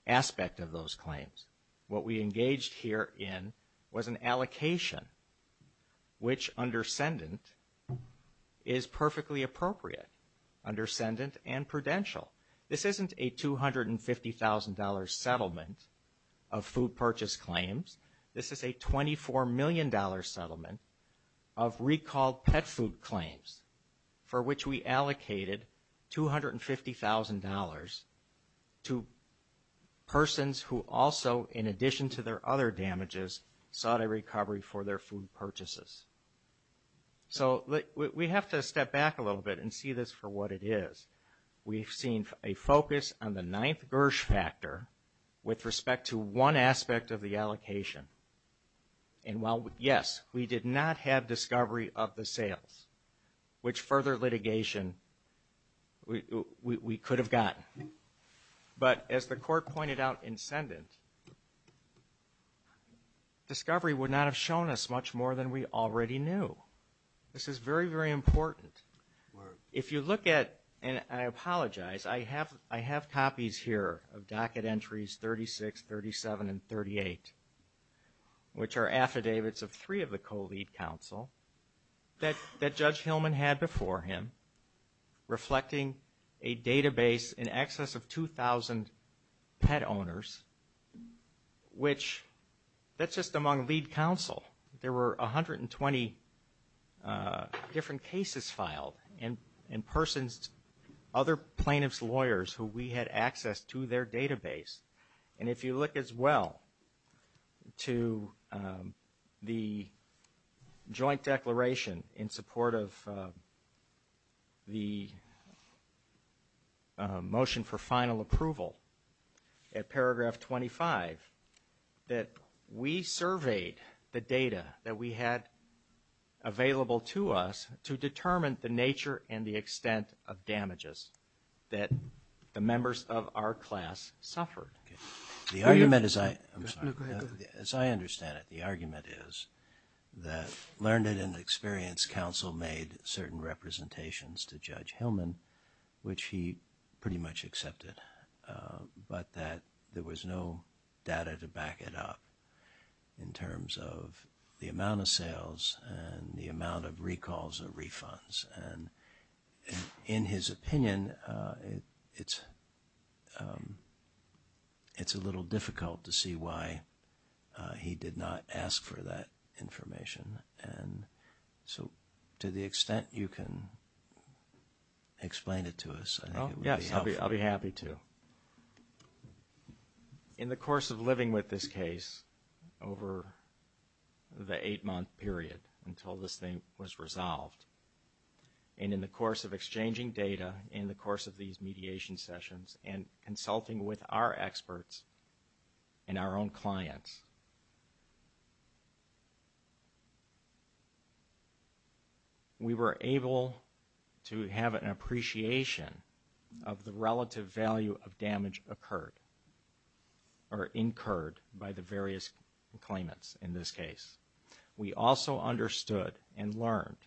aspect of those claims. What we engaged here in was an allocation, which, under Sendent, is perfectly appropriate. Under Sendent and Prudential. This isn't a $250,000 settlement of food purchase claims. This is a $24 million settlement of recalled pet food claims for which we allocated $250,000 to persons who also, in addition to their other damages, sought a recovery for their food purchases. So we have to step back a little bit and see this for what it is. We've seen a focus on the ninth birch factor with respect to one aspect of the allocation. And while, yes, we did not have discovery of the sales, which further litigation we could have gotten. But as the court pointed out in Sendent, discovery would not have shown us much more than we already knew. This is very, very important. If you look at, and I apologize, I have copies here of docket entries 36, 37, and 38, which are affidavits of three of the co-lead counsel that Judge Hillman had before him, reflecting a database in excess of 2,000 pet owners, which that's just among lead counsel. There were 120 different cases filed and persons, other plaintiff's lawyers who we had access to their database. And if you look as well to the joint declaration in support of the motion for final approval at paragraph 25, that we surveyed the data that we had available to us to determine the nature and the extent of damages that the members of our class suffered. The argument, as I understand it, the argument is that learned and experienced counsel made certain representations to Judge Hillman, which he pretty much accepted, but that there was no data to back it up in terms of the amount of sales and the amount of recalls and refunds. And in his opinion, it's a little difficult to see why he did not ask for that information. So to the extent you can explain it to us, I'll be happy to. In the course of living with this case over the eight-month period until this thing was resolved, and in the course of exchanging data in the course of these mediation sessions and consulting with our experts and our own clients, we were able to have an appreciation of the relative value of damage incurred by the various claimants in this case. We also understood and learned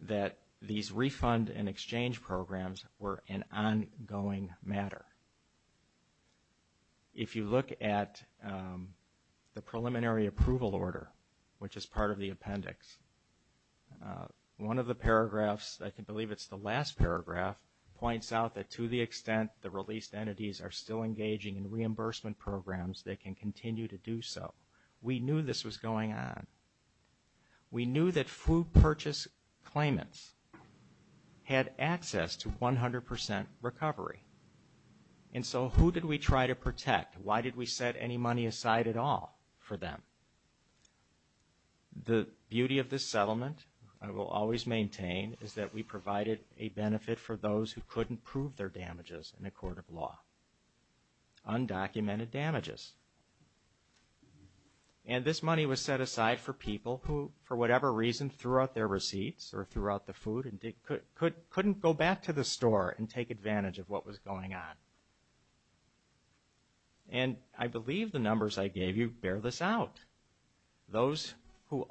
that these refund and exchange programs were an ongoing matter. If you look at the preliminary approval order, which is part of the appendix, one of the paragraphs, I believe it's the last paragraph, points out that to the extent the released entities are still engaging in reimbursement programs, they can continue to do so. We knew this was going on. We knew that food purchase claimants had access to 100 percent recovery. And so who did we try to protect? Why did we set any money aside at all for them? The beauty of this settlement, I will always maintain, is that we provided a benefit for those who couldn't prove their damages in a court of law, undocumented damages. And this money was set aside for people who, for whatever reason, threw out their receipts or threw out the food and couldn't go back to the store and take advantage of what was going on. And I believe the numbers I gave you bear this out. Those who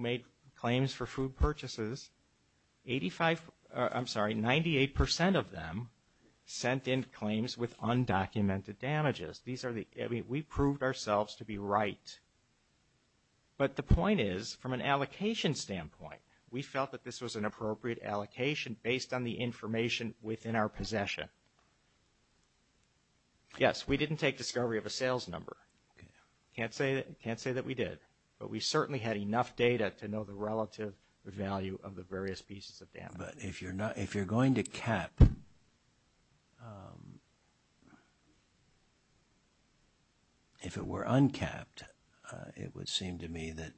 made claims for food purchases, 98 percent of them sent in claims with undocumented damages. We proved ourselves to be right. But the point is, from an allocation standpoint, we felt that this was an appropriate allocation based on the information within our possession. Yes, we didn't take discovery of a sales number. Can't say that we did. But we certainly had enough data to know the relative value of the various pieces of data. But if you're going to cap, if it were uncapped, it would seem to me that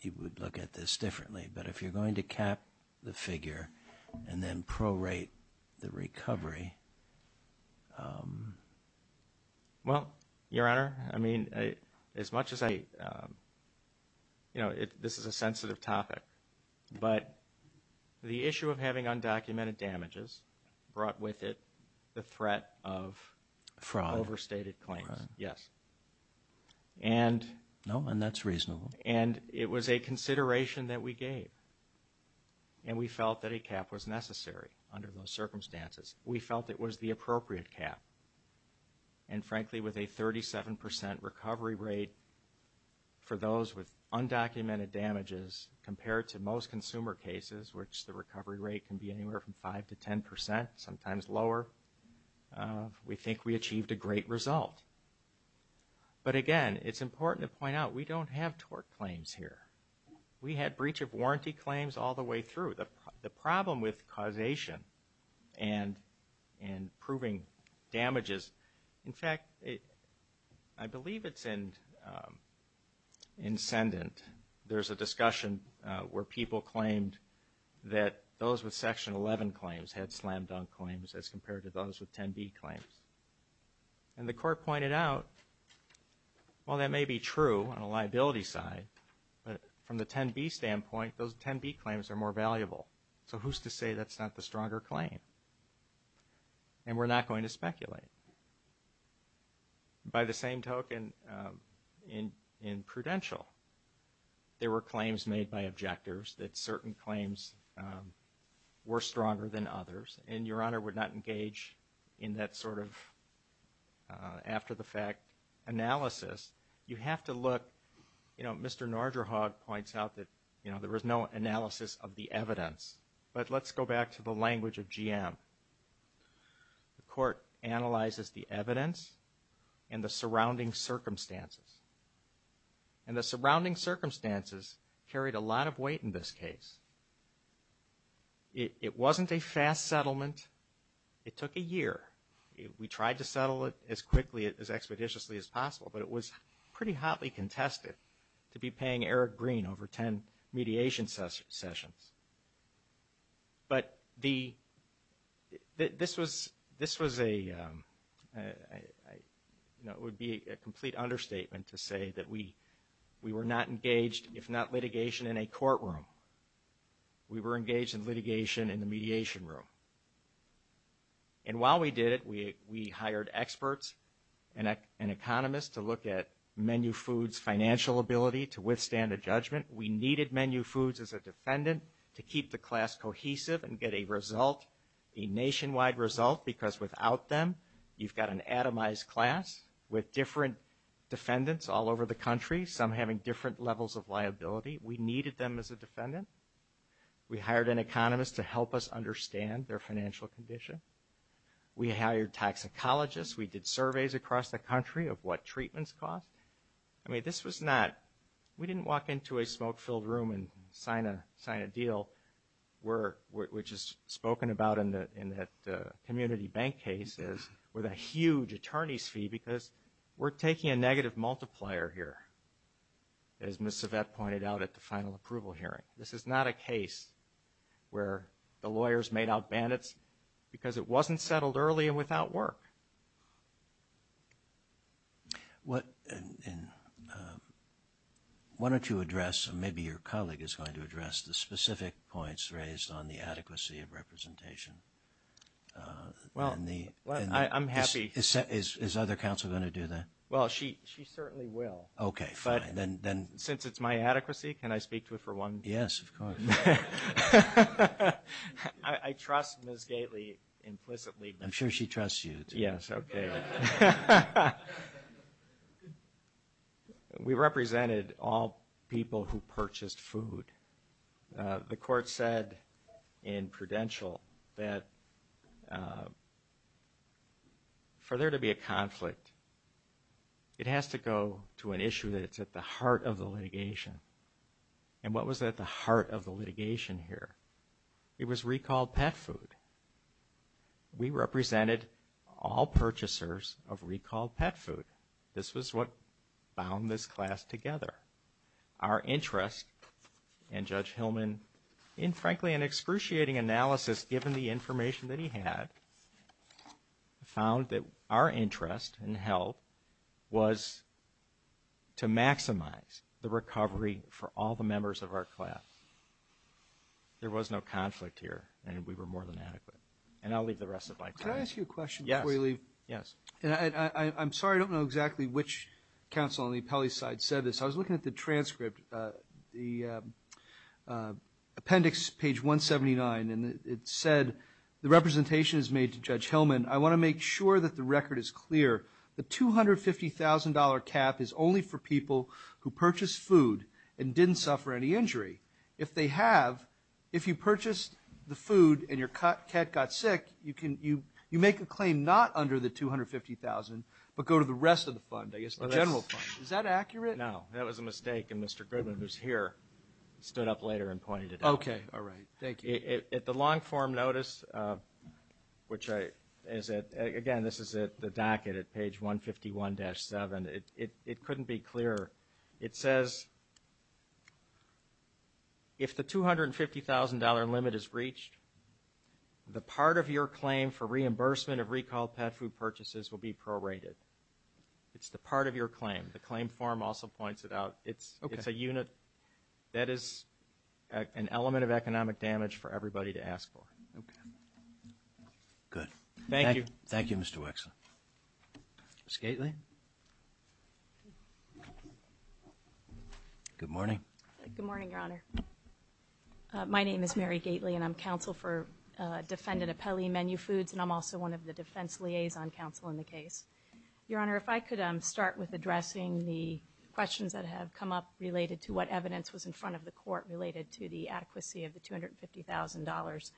you would look at this differently. But if you're going to cap the figure and then prorate the recovery. Well, Your Honor, I mean, as much as I, you know, this is a sensitive topic. But the issue of having undocumented damages brought with it the threat of overstated claims. Fraud. Yes. No, and that's reasonable. And it was a consideration that we gave. And we felt that a cap was necessary under those circumstances. We felt it was the appropriate cap. And frankly, with a 37 percent recovery rate for those with undocumented damages compared to most consumer cases, which the recovery rate can be anywhere from 5 to 10 percent, sometimes lower, we think we achieved a great result. But again, it's important to point out, we don't have tort claims here. We had breach of warranty claims all the way through. The problem with causation and proving damages, in fact, I believe it's in ascendant. There's a discussion where people claimed that those with Section 11 claims had slam dunk claims as compared to those with 10B claims. And the court pointed out, well, that may be true on a liability side. But from the 10B standpoint, those 10B claims are more valuable. So who's to say that's not the stronger claim? And we're not going to speculate. By the same token, in prudential, there were claims made by objectors that certain claims were stronger than others. And Your Honor would not engage in that sort of after-the-fact analysis. You have to look. You know, Mr. Narderhaug points out that there was no analysis of the evidence. But let's go back to the language of GM. The court analyzes the evidence and the surrounding circumstances. And the surrounding circumstances carried a lot of weight in this case. It wasn't a fast settlement. It took a year. We tried to settle it as quickly, as expeditiously as possible, but it was pretty hotly contested to be paying Eric Green over 10 mediation sessions. But this was a complete understatement to say that we were not engaged, if not litigation, in a courtroom. We were engaged in litigation in the mediation room. And while we did it, we hired experts and economists to look at Menu Foods' financial ability to withstand a judgment. We needed Menu Foods as a defendant to keep the class cohesive and get a result, a nationwide result, because without them, you've got an atomized class with different defendants all over the country, some having different levels of liability. We needed them as a defendant. We hired an economist to help us understand their financial condition. We hired toxicologists. We did surveys across the country of what treatments cost. I mean, this was not – we didn't walk into a smoke-filled room and sign a deal, which is spoken about in that community bank case, with a huge attorney's fee, because we're taking a negative multiplier here, as Ms. Yvette pointed out at the final approval hearing. This is not a case where the lawyers made out bandits because it wasn't settled early and without work. Why don't you address, or maybe your colleague is going to address, the specific points raised on the adequacy of representation? Well, I'm happy. Is another counsel going to do that? Well, she certainly will. Okay, fine. But since it's my adequacy, can I speak to it for one minute? Yes, of course. I trust Ms. Gailey implicitly. I'm sure she trusts you. Yes, okay. All right. We represented all people who purchased food. The court said in prudential that for there to be a conflict, it has to go to an issue that's at the heart of the litigation. And what was at the heart of the litigation here? It was recalled pet food. We represented all purchasers of recalled pet food. This was what bound this class together. Our interest, and Judge Hillman, in frankly an excruciating analysis given the information that he had, found that our interest in health was to maximize the recovery for all the members of our class. There was no conflict here, and we were more than adequate. And I'll leave the rest of my time. Can I ask you a question before you leave? Yes. I'm sorry, I don't know exactly which counsel on the appellee side said this. I was looking at the transcript, the appendix, page 179, and it said, the representation is made to Judge Hillman. I want to make sure that the record is clear. The $250,000 cap is only for people who purchased food and didn't suffer any injury. If they have, if you purchased the food and your cat got sick, you make a claim not under the $250,000 but go to the rest of the fund, the general fund. Is that accurate? No. That was a mistake, and Mr. Griffin, who's here, stood up later and pointed it out. Okay. All right. Thank you. At the long form notice, which, again, this is the docket at page 151-7, it couldn't be clearer. It says, if the $250,000 limit is reached, the part of your claim for reimbursement of recalled pet food purchases will be prorated. It's the part of your claim. The claim form also points it out. Okay. If a unit, that is an element of economic damage for everybody to ask for. Okay. Good. Thank you. Thank you, Mr. Wixson. Ms. Gately? Good morning. Good morning, Your Honor. My name is Mary Gately, and I'm counsel for defendant Apelli Menu Foods, and I'm also one of the defense liaison counsel in the case. Your Honor, if I could start with addressing the questions that have come up related to what evidence was in front of the court related to the adequacy of the $250,000.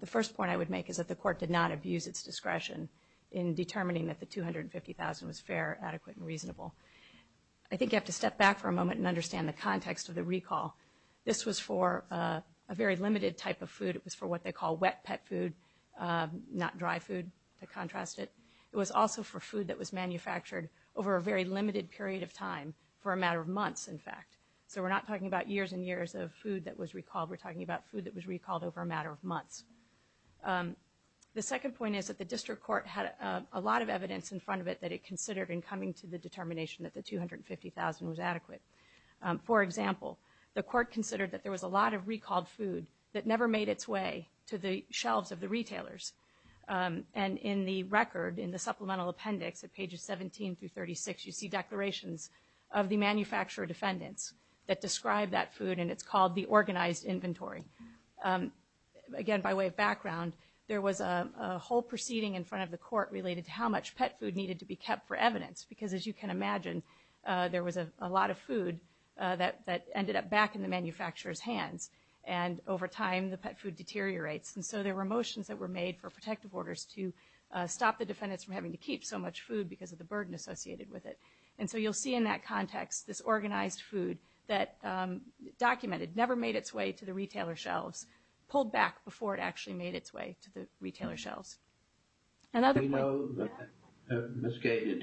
The first point I would make is that the court did not abuse its discretion in determining that the $250,000 was fair, adequate, and reasonable. I think you have to step back for a moment and understand the context of the recall. This was for a very limited type of food. It was for what they call wet pet food, not dry food, to contrast it. It was also for food that was manufactured over a very limited period of time, for a matter of months, in fact. So we're not talking about years and years of food that was recalled. We're talking about food that was recalled over a matter of months. The second point is that the district court had a lot of evidence in front of it that it considered in coming to the determination that the $250,000 was adequate. For example, the court considered that there was a lot of recalled food that never made its way to the shelves of the retailers. And in the record, in the supplemental appendix at pages 17 through 36, you see declarations of the manufacturer defendants that describe that food, and it's called the organized inventory. Again, by way of background, there was a whole proceeding in front of the court related to how much pet food needed to be kept for evidence because, as you can imagine, there was a lot of food that ended up back in the manufacturer's hands. And over time, the pet food deteriorates. And so there were motions that were made for protective orders to stop the defendants from having to keep so much food because of the burden associated with it. And so you'll see in that context this organized food that documented, never made its way to the retailer's shelves, pulled back before it actually made its way to the retailer's shelves. Another point. Do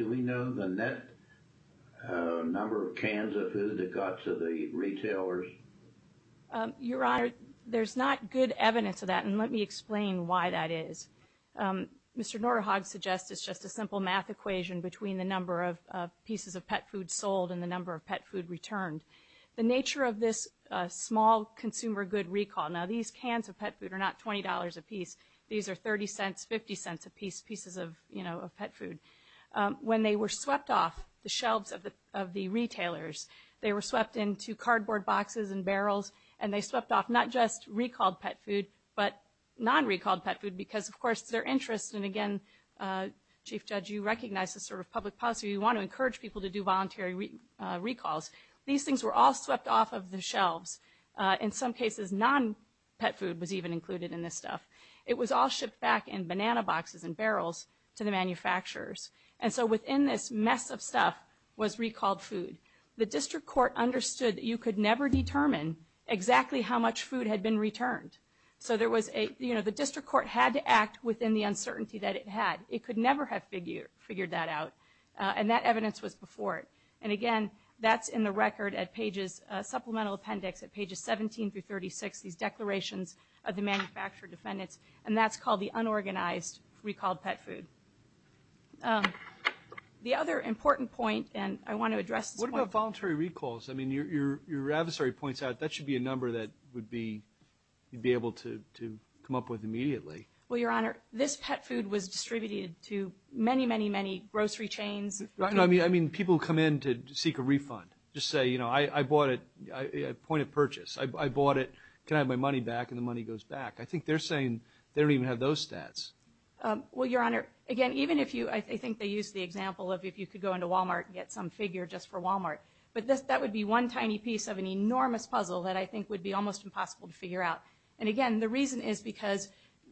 we know the net number of cans of food that got to the retailers? Your Honor, there's not good evidence of that, and let me explain why that is. Mr. Norahog suggests it's just a simple math equation between the number of pieces of pet food sold and the number of pet food returned. The nature of this small consumer good recall. Now, these cans of pet food are not $20 a piece. These are $0.30, $0.50 a piece, pieces of, you know, pet food. When they were swept off the shelves of the retailers, they were swept into cardboard boxes and barrels, and they swept off not just recalled pet food but non-recalled pet food because, of course, their interests. And, again, Chief Judge, you recognize this sort of public policy. You want to encourage people to do voluntary recalls. These things were all swept off of the shelves. In some cases, non-pet food was even included in this stuff. It was all shipped back in banana boxes and barrels to the manufacturers. And so within this mess of stuff was recalled food. The district court understood that you could never determine exactly how much food had been returned. So there was a, you know, the district court had to act within the uncertainty that it had. It could never have figured that out, and that evidence was before it. And, again, that's in the record at pages, supplemental appendix at pages 17 through 36, these declarations of the manufacturer defendants, and that's called the unorganized recalled pet food. The other important point, and I want to address this point. What about voluntary recalls? I mean, your adversary points out that should be a number that would be able to come up with immediately. Well, Your Honor, this pet food was distributed to many, many, many grocery chains. I mean, people come in to seek a refund. Just say, you know, I bought it at point of purchase. I bought it. Can I have my money back? And the money goes back. I think they're saying they don't even have those stats. Well, Your Honor, again, even if you – I think they used the example of if you could go into Walmart and get some figure just for Walmart. But that would be one tiny piece of an enormous puzzle that I think would be almost impossible to figure out. And, again, the reason is because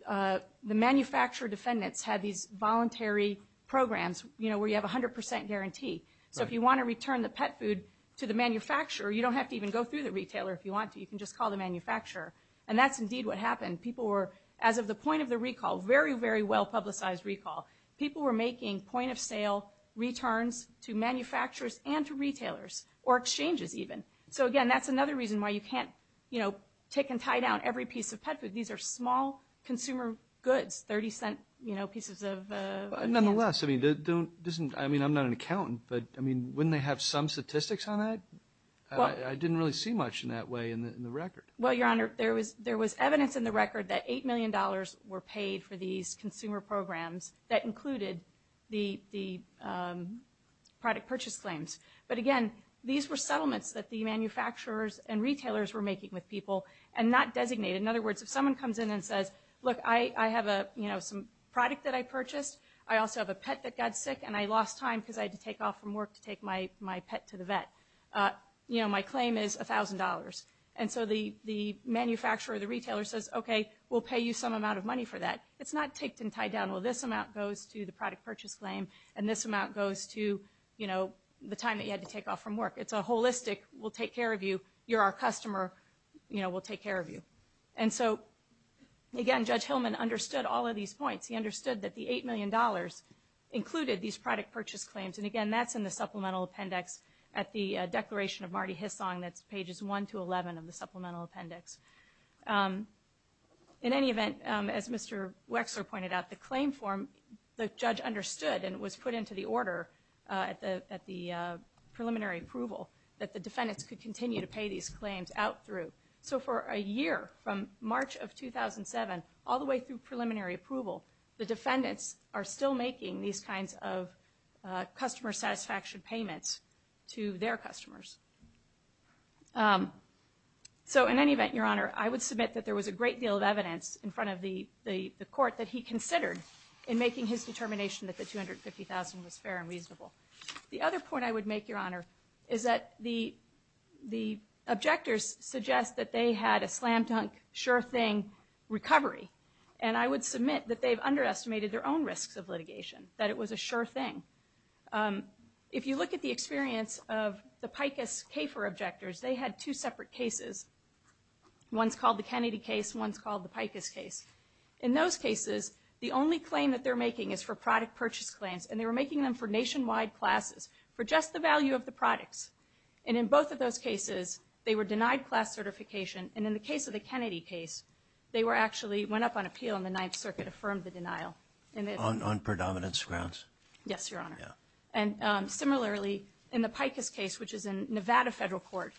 the manufacturer defendants had these voluntary programs, you know, where you have 100% guarantee. So if you want to return the pet food to the manufacturer, you don't have to even go through the retailer if you want to. You can just call the manufacturer. And that's indeed what happened. People were, as of the point of the recall, very, very well-publicized recall. People were making point-of-sale returns to manufacturers and to retailers or exchanges even. So, again, that's another reason why you can't, you know, kick and tie down every piece of pet food. These are small consumer goods, 30-cent, you know, pieces of – Nonetheless, I mean, I'm not an accountant, but, I mean, wouldn't they have some statistics on that? I didn't really see much in that way in the record. Well, Your Honor, there was evidence in the record that $8 million were paid for these consumer programs that included the product purchase claims. But, again, these were settlements that the manufacturers and retailers were making with people and not designated. In other words, if someone comes in and says, look, I have a, you know, some product that I purchased. I also have a pet that got sick, and I lost time because I had to take off from work to take my pet to the vet. You know, my claim is $1,000. And so the manufacturer or the retailer says, okay, we'll pay you some amount of money for that. It's not kicked and tied down. Well, this amount goes to the product purchase claim, and this amount goes to, you know, the time that you had to take off from work. It's a holistic, we'll take care of you. You're our customer. You know, we'll take care of you. And so, again, Judge Hillman understood all of these points. He understood that the $8 million included these product purchase claims. And, again, that's in the Supplemental Appendix at the Declaration of Marty Hissong. That's Pages 1 to 11 of the Supplemental Appendix. In any event, as Mr. Wexler pointed out, the claim form, the judge understood and was put into the order at the preliminary approval that the defendants could continue to pay these claims out through. So for a year, from March of 2007, all the way through preliminary approval, the defendants are still making these kinds of customer satisfaction payments to their customers. So, in any event, Your Honor, I would submit that there was a great deal of evidence in front of the court that he considered in making his determination that the $250,000 was fair and reasonable. The other point I would make, Your Honor, is that the objectors suggest that they had a slam-dunk, sure thing recovery. And I would submit that they've underestimated their own risks of litigation, that it was a sure thing. If you look at the experience of the PICUS CAFER objectors, they had two separate cases. One's called the Kennedy case. One's called the PICUS case. In those cases, the only claim that they're making is for product purchase claims. And they were making them for nationwide classes, for just the value of the products. And in both of those cases, they were denied class certification. And in the case of the Kennedy case, they actually went up on appeal and the Ninth Circuit affirmed the denial. On predominance grounds? Yes, Your Honor. And similarly, in the PICUS case, which is in Nevada federal court,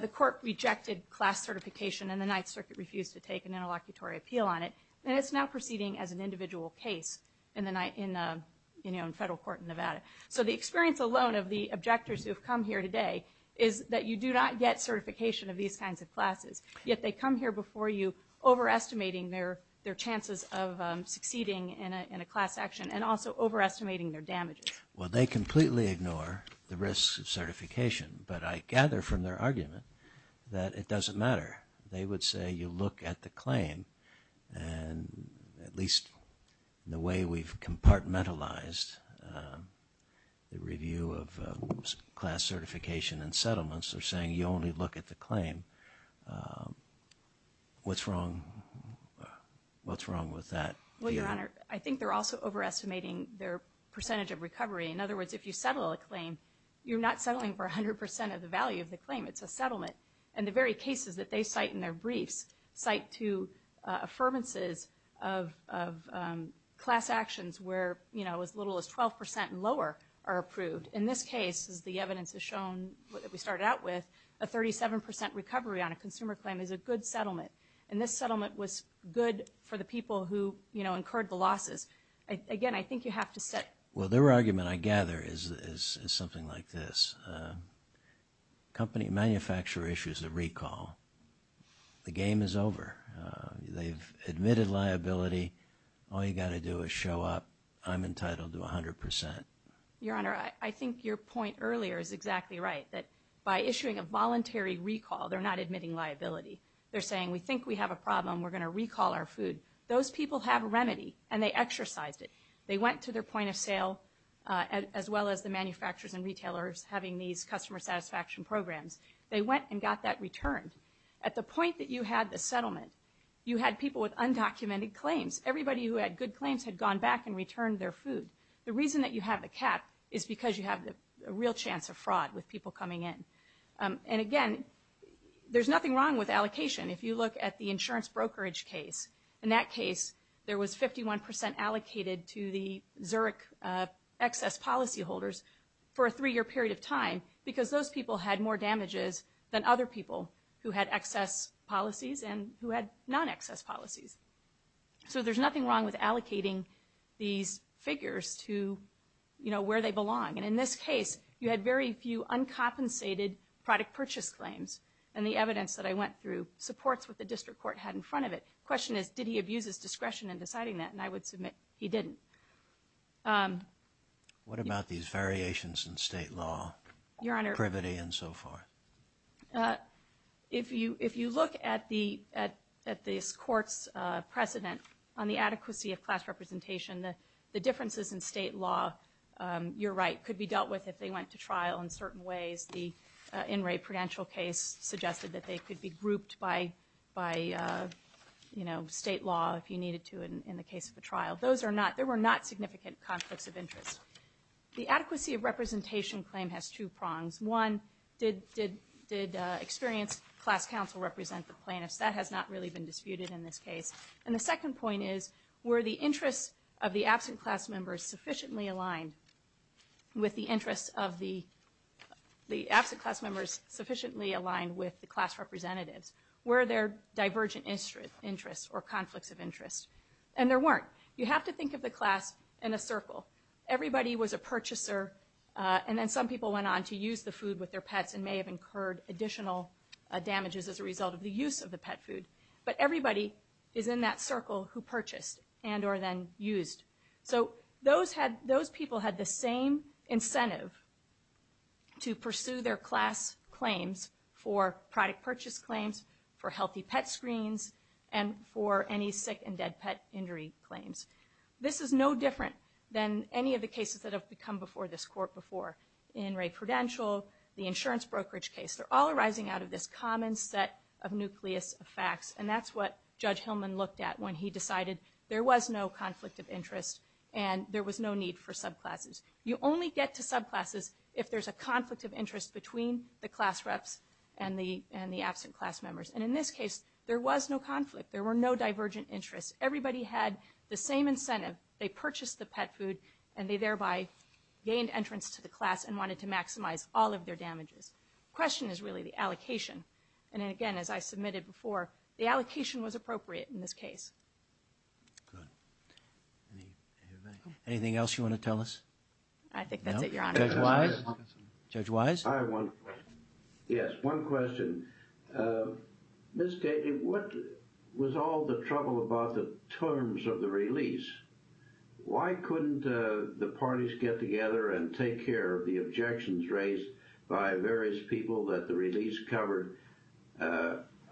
the court rejected class certification and the Ninth Circuit refused to take an interlocutory appeal on it. And it's now proceeding as an individual case in federal court in Nevada. So the experience alone of the objectors who have come here today is that you do not get certification of these kinds of classes. Yet they come here before you overestimating their chances of succeeding in a class action and also overestimating their damages. Well, they completely ignore the risks of certification. But I gather from their argument that it doesn't matter. They would say you look at the claim and at least the way we've compartmentalized the review of class certification and settlements, they're saying you only look at the claim. What's wrong with that? Well, Your Honor, I think they're also overestimating their percentage of recovery. In other words, if you settle a claim, you're not settling for 100% of the value of the claim. It's a settlement. And the very cases that they cite in their brief cite two affirmances of class actions where, you know, as little as 12% and lower are approved. In this case, as the evidence has shown that we started out with, a 37% recovery on a consumer claim is a good settlement. And this settlement was good for the people who, you know, incurred the losses. Again, I think you have to set – Well, their argument, I gather, is something like this. Company manufacturer issues a recall. The game is over. They've admitted liability. All you've got to do is show up. I'm entitled to 100%. Your Honor, I think your point earlier is exactly right, that by issuing a voluntary recall, they're not admitting liability. They're saying we think we have a problem. We're going to recall our food. Those people have a remedy, and they exercise it. They went to their point of sale, as well as the manufacturers and retailers having these customer satisfaction programs. They went and got that returned. At the point that you had the settlement, you had people with undocumented claims. Everybody who had good claims had gone back and returned their food. The reason that you have a cap is because you have a real chance of fraud with people coming in. And, again, there's nothing wrong with allocation. If you look at the insurance brokerage case, in that case, there was 51% allocated to the Zurich excess policyholders for a three-year period of time because those people had more damages than other people who had excess policies and who had non-excess policies. So there's nothing wrong with allocating these figures to, you know, where they belong. And in this case, you had very few uncompensated product purchase claims. And the evidence that I went through supports what the district court had in front of it. The question is, did he abuse his discretion in deciding that? And I would submit he didn't. What about these variations in state law? Your Honor. Privity and so forth. If you look at these courts' precedents on the adequacy of class representation, the differences in state law, you're right, could be dealt with if they went to trial in certain ways. The In re Prudential case suggested that they could be grouped by, you know, state law if you needed to in the case of a trial. Those were not significant conflicts of interest. The adequacy of representation claim has two prongs. One, did experienced class counsel represent the plaintiff? That has not really been disputed in this case. And the second point is, were the interests of the absent class members sufficiently aligned with the class representative? Were there divergent interests or conflicts of interest? And there weren't. You have to think of the class in a circle. Everybody was a purchaser, and then some people went on to use the food with their pets and may have incurred additional damages as a result of the use of the pet food. But everybody is in that circle who purchased and or then used. So those people had the same incentive to pursue their class claims for product purchase claims, for healthy pet screens, and for any sick and dead pet injury claims. This is no different than any of the cases that have come before this court before, in Ray Prudential, the insurance brokerage case. They're all arising out of this common set of nucleus of facts, and that's what Judge Hillman looked at when he decided there was no conflict of interest and there was no need for subclasses. You only get to subclasses if there's a conflict of interest between the class reps and the absent class members. And in this case, there was no conflict. There were no divergent interests. Everybody had the same incentive. They purchased the pet food, and they thereby gained entrance to the class and wanted to maximize all of their damages. The question is really the allocation. And, again, as I submitted before, the allocation was appropriate in this case. Anything else you want to tell us? I think that's it, Your Honor. Judge Wise? I have one question. Yes, one question. Ms. Kagan, what was all the trouble about the terms of the release? Why couldn't the parties get together and take care of the objections raised by various people that the release covered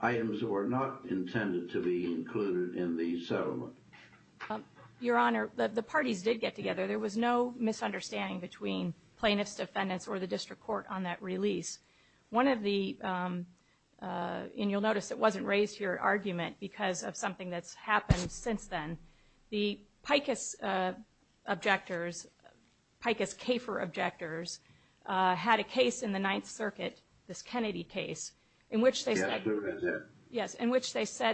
items that were not intended to be included in the settlement? Your Honor, the parties did get together. There was no misunderstanding between plaintiffs, defendants, or the district court on that release. One of the – and you'll notice it wasn't raised here, argument, because of something that's happened since then. The Pikus objectors, Pikus-Kafer objectors, had a case in the Ninth Circuit, this Kennedy case, in which they said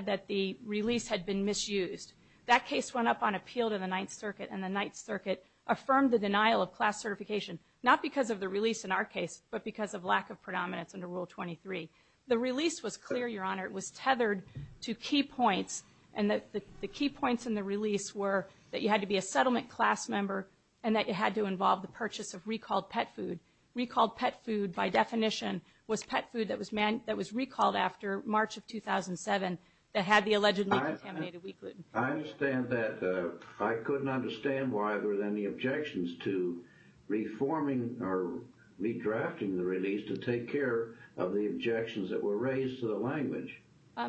that the release had been misused. That case went up on appeal to the Ninth Circuit, and the Ninth Circuit affirmed the denial of class certification, not because of the release in our case, but because of lack of predominance under Rule 23. The release was clear, Your Honor. It was tethered to key points, and the key points in the release were that you had to be a settlement class member and that you had to involve the purchase of recalled pet food. Recalled pet food, by definition, was pet food that was recalled after March of 2007 that had the allegedly contaminated wheat gluten. I understand that. I couldn't understand why there were any objections to reforming or redrafting the release to take care of the objections that were raised to the language.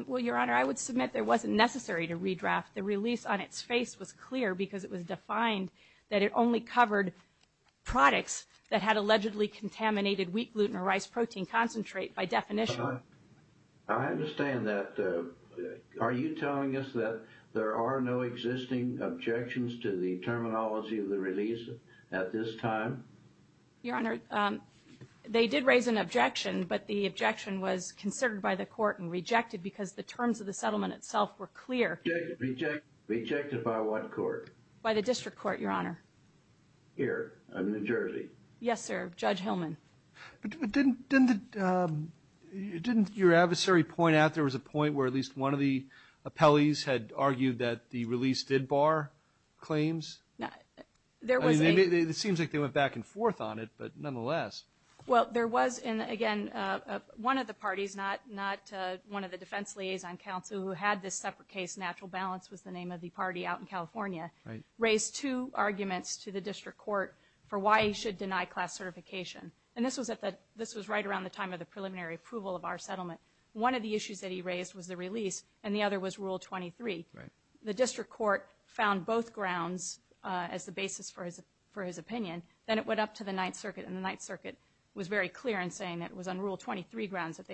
Well, Your Honor, I would submit there wasn't necessary to redraft. The release on its face was clear because it was defined that it only covered products that had allegedly contaminated wheat gluten or rice protein concentrate, by definition. I understand that. Are you telling us that there are no existing objections to the terminology of the release at this time? Your Honor, they did raise an objection, but the objection was considered by the court and rejected because the terms of the settlement itself were clear. Rejected by what court? By the District Court, Your Honor. Here, in New Jersey? Yes, sir, Judge Hillman. Didn't your adversary point out there was a point where at least one of the appellees had argued that the release did bar claims? It seems like they went back and forth on it, but nonetheless. Well, there was, and again, one of the parties, not one of the defense liaison counsel, who had this separate case, Natural Balance was the name of the party out in California, raised two arguments to the District Court for why he should deny class certification. And this was right around the time of the preliminary approval of our settlement. One of the issues that he raised was the release, and the other was Rule 23. The District Court found both grounds as the basis for his opinion. Then it went up to the Ninth Circuit, and the Ninth Circuit was very clear in saying that it was on Rule 23 grounds that they should deny class certification.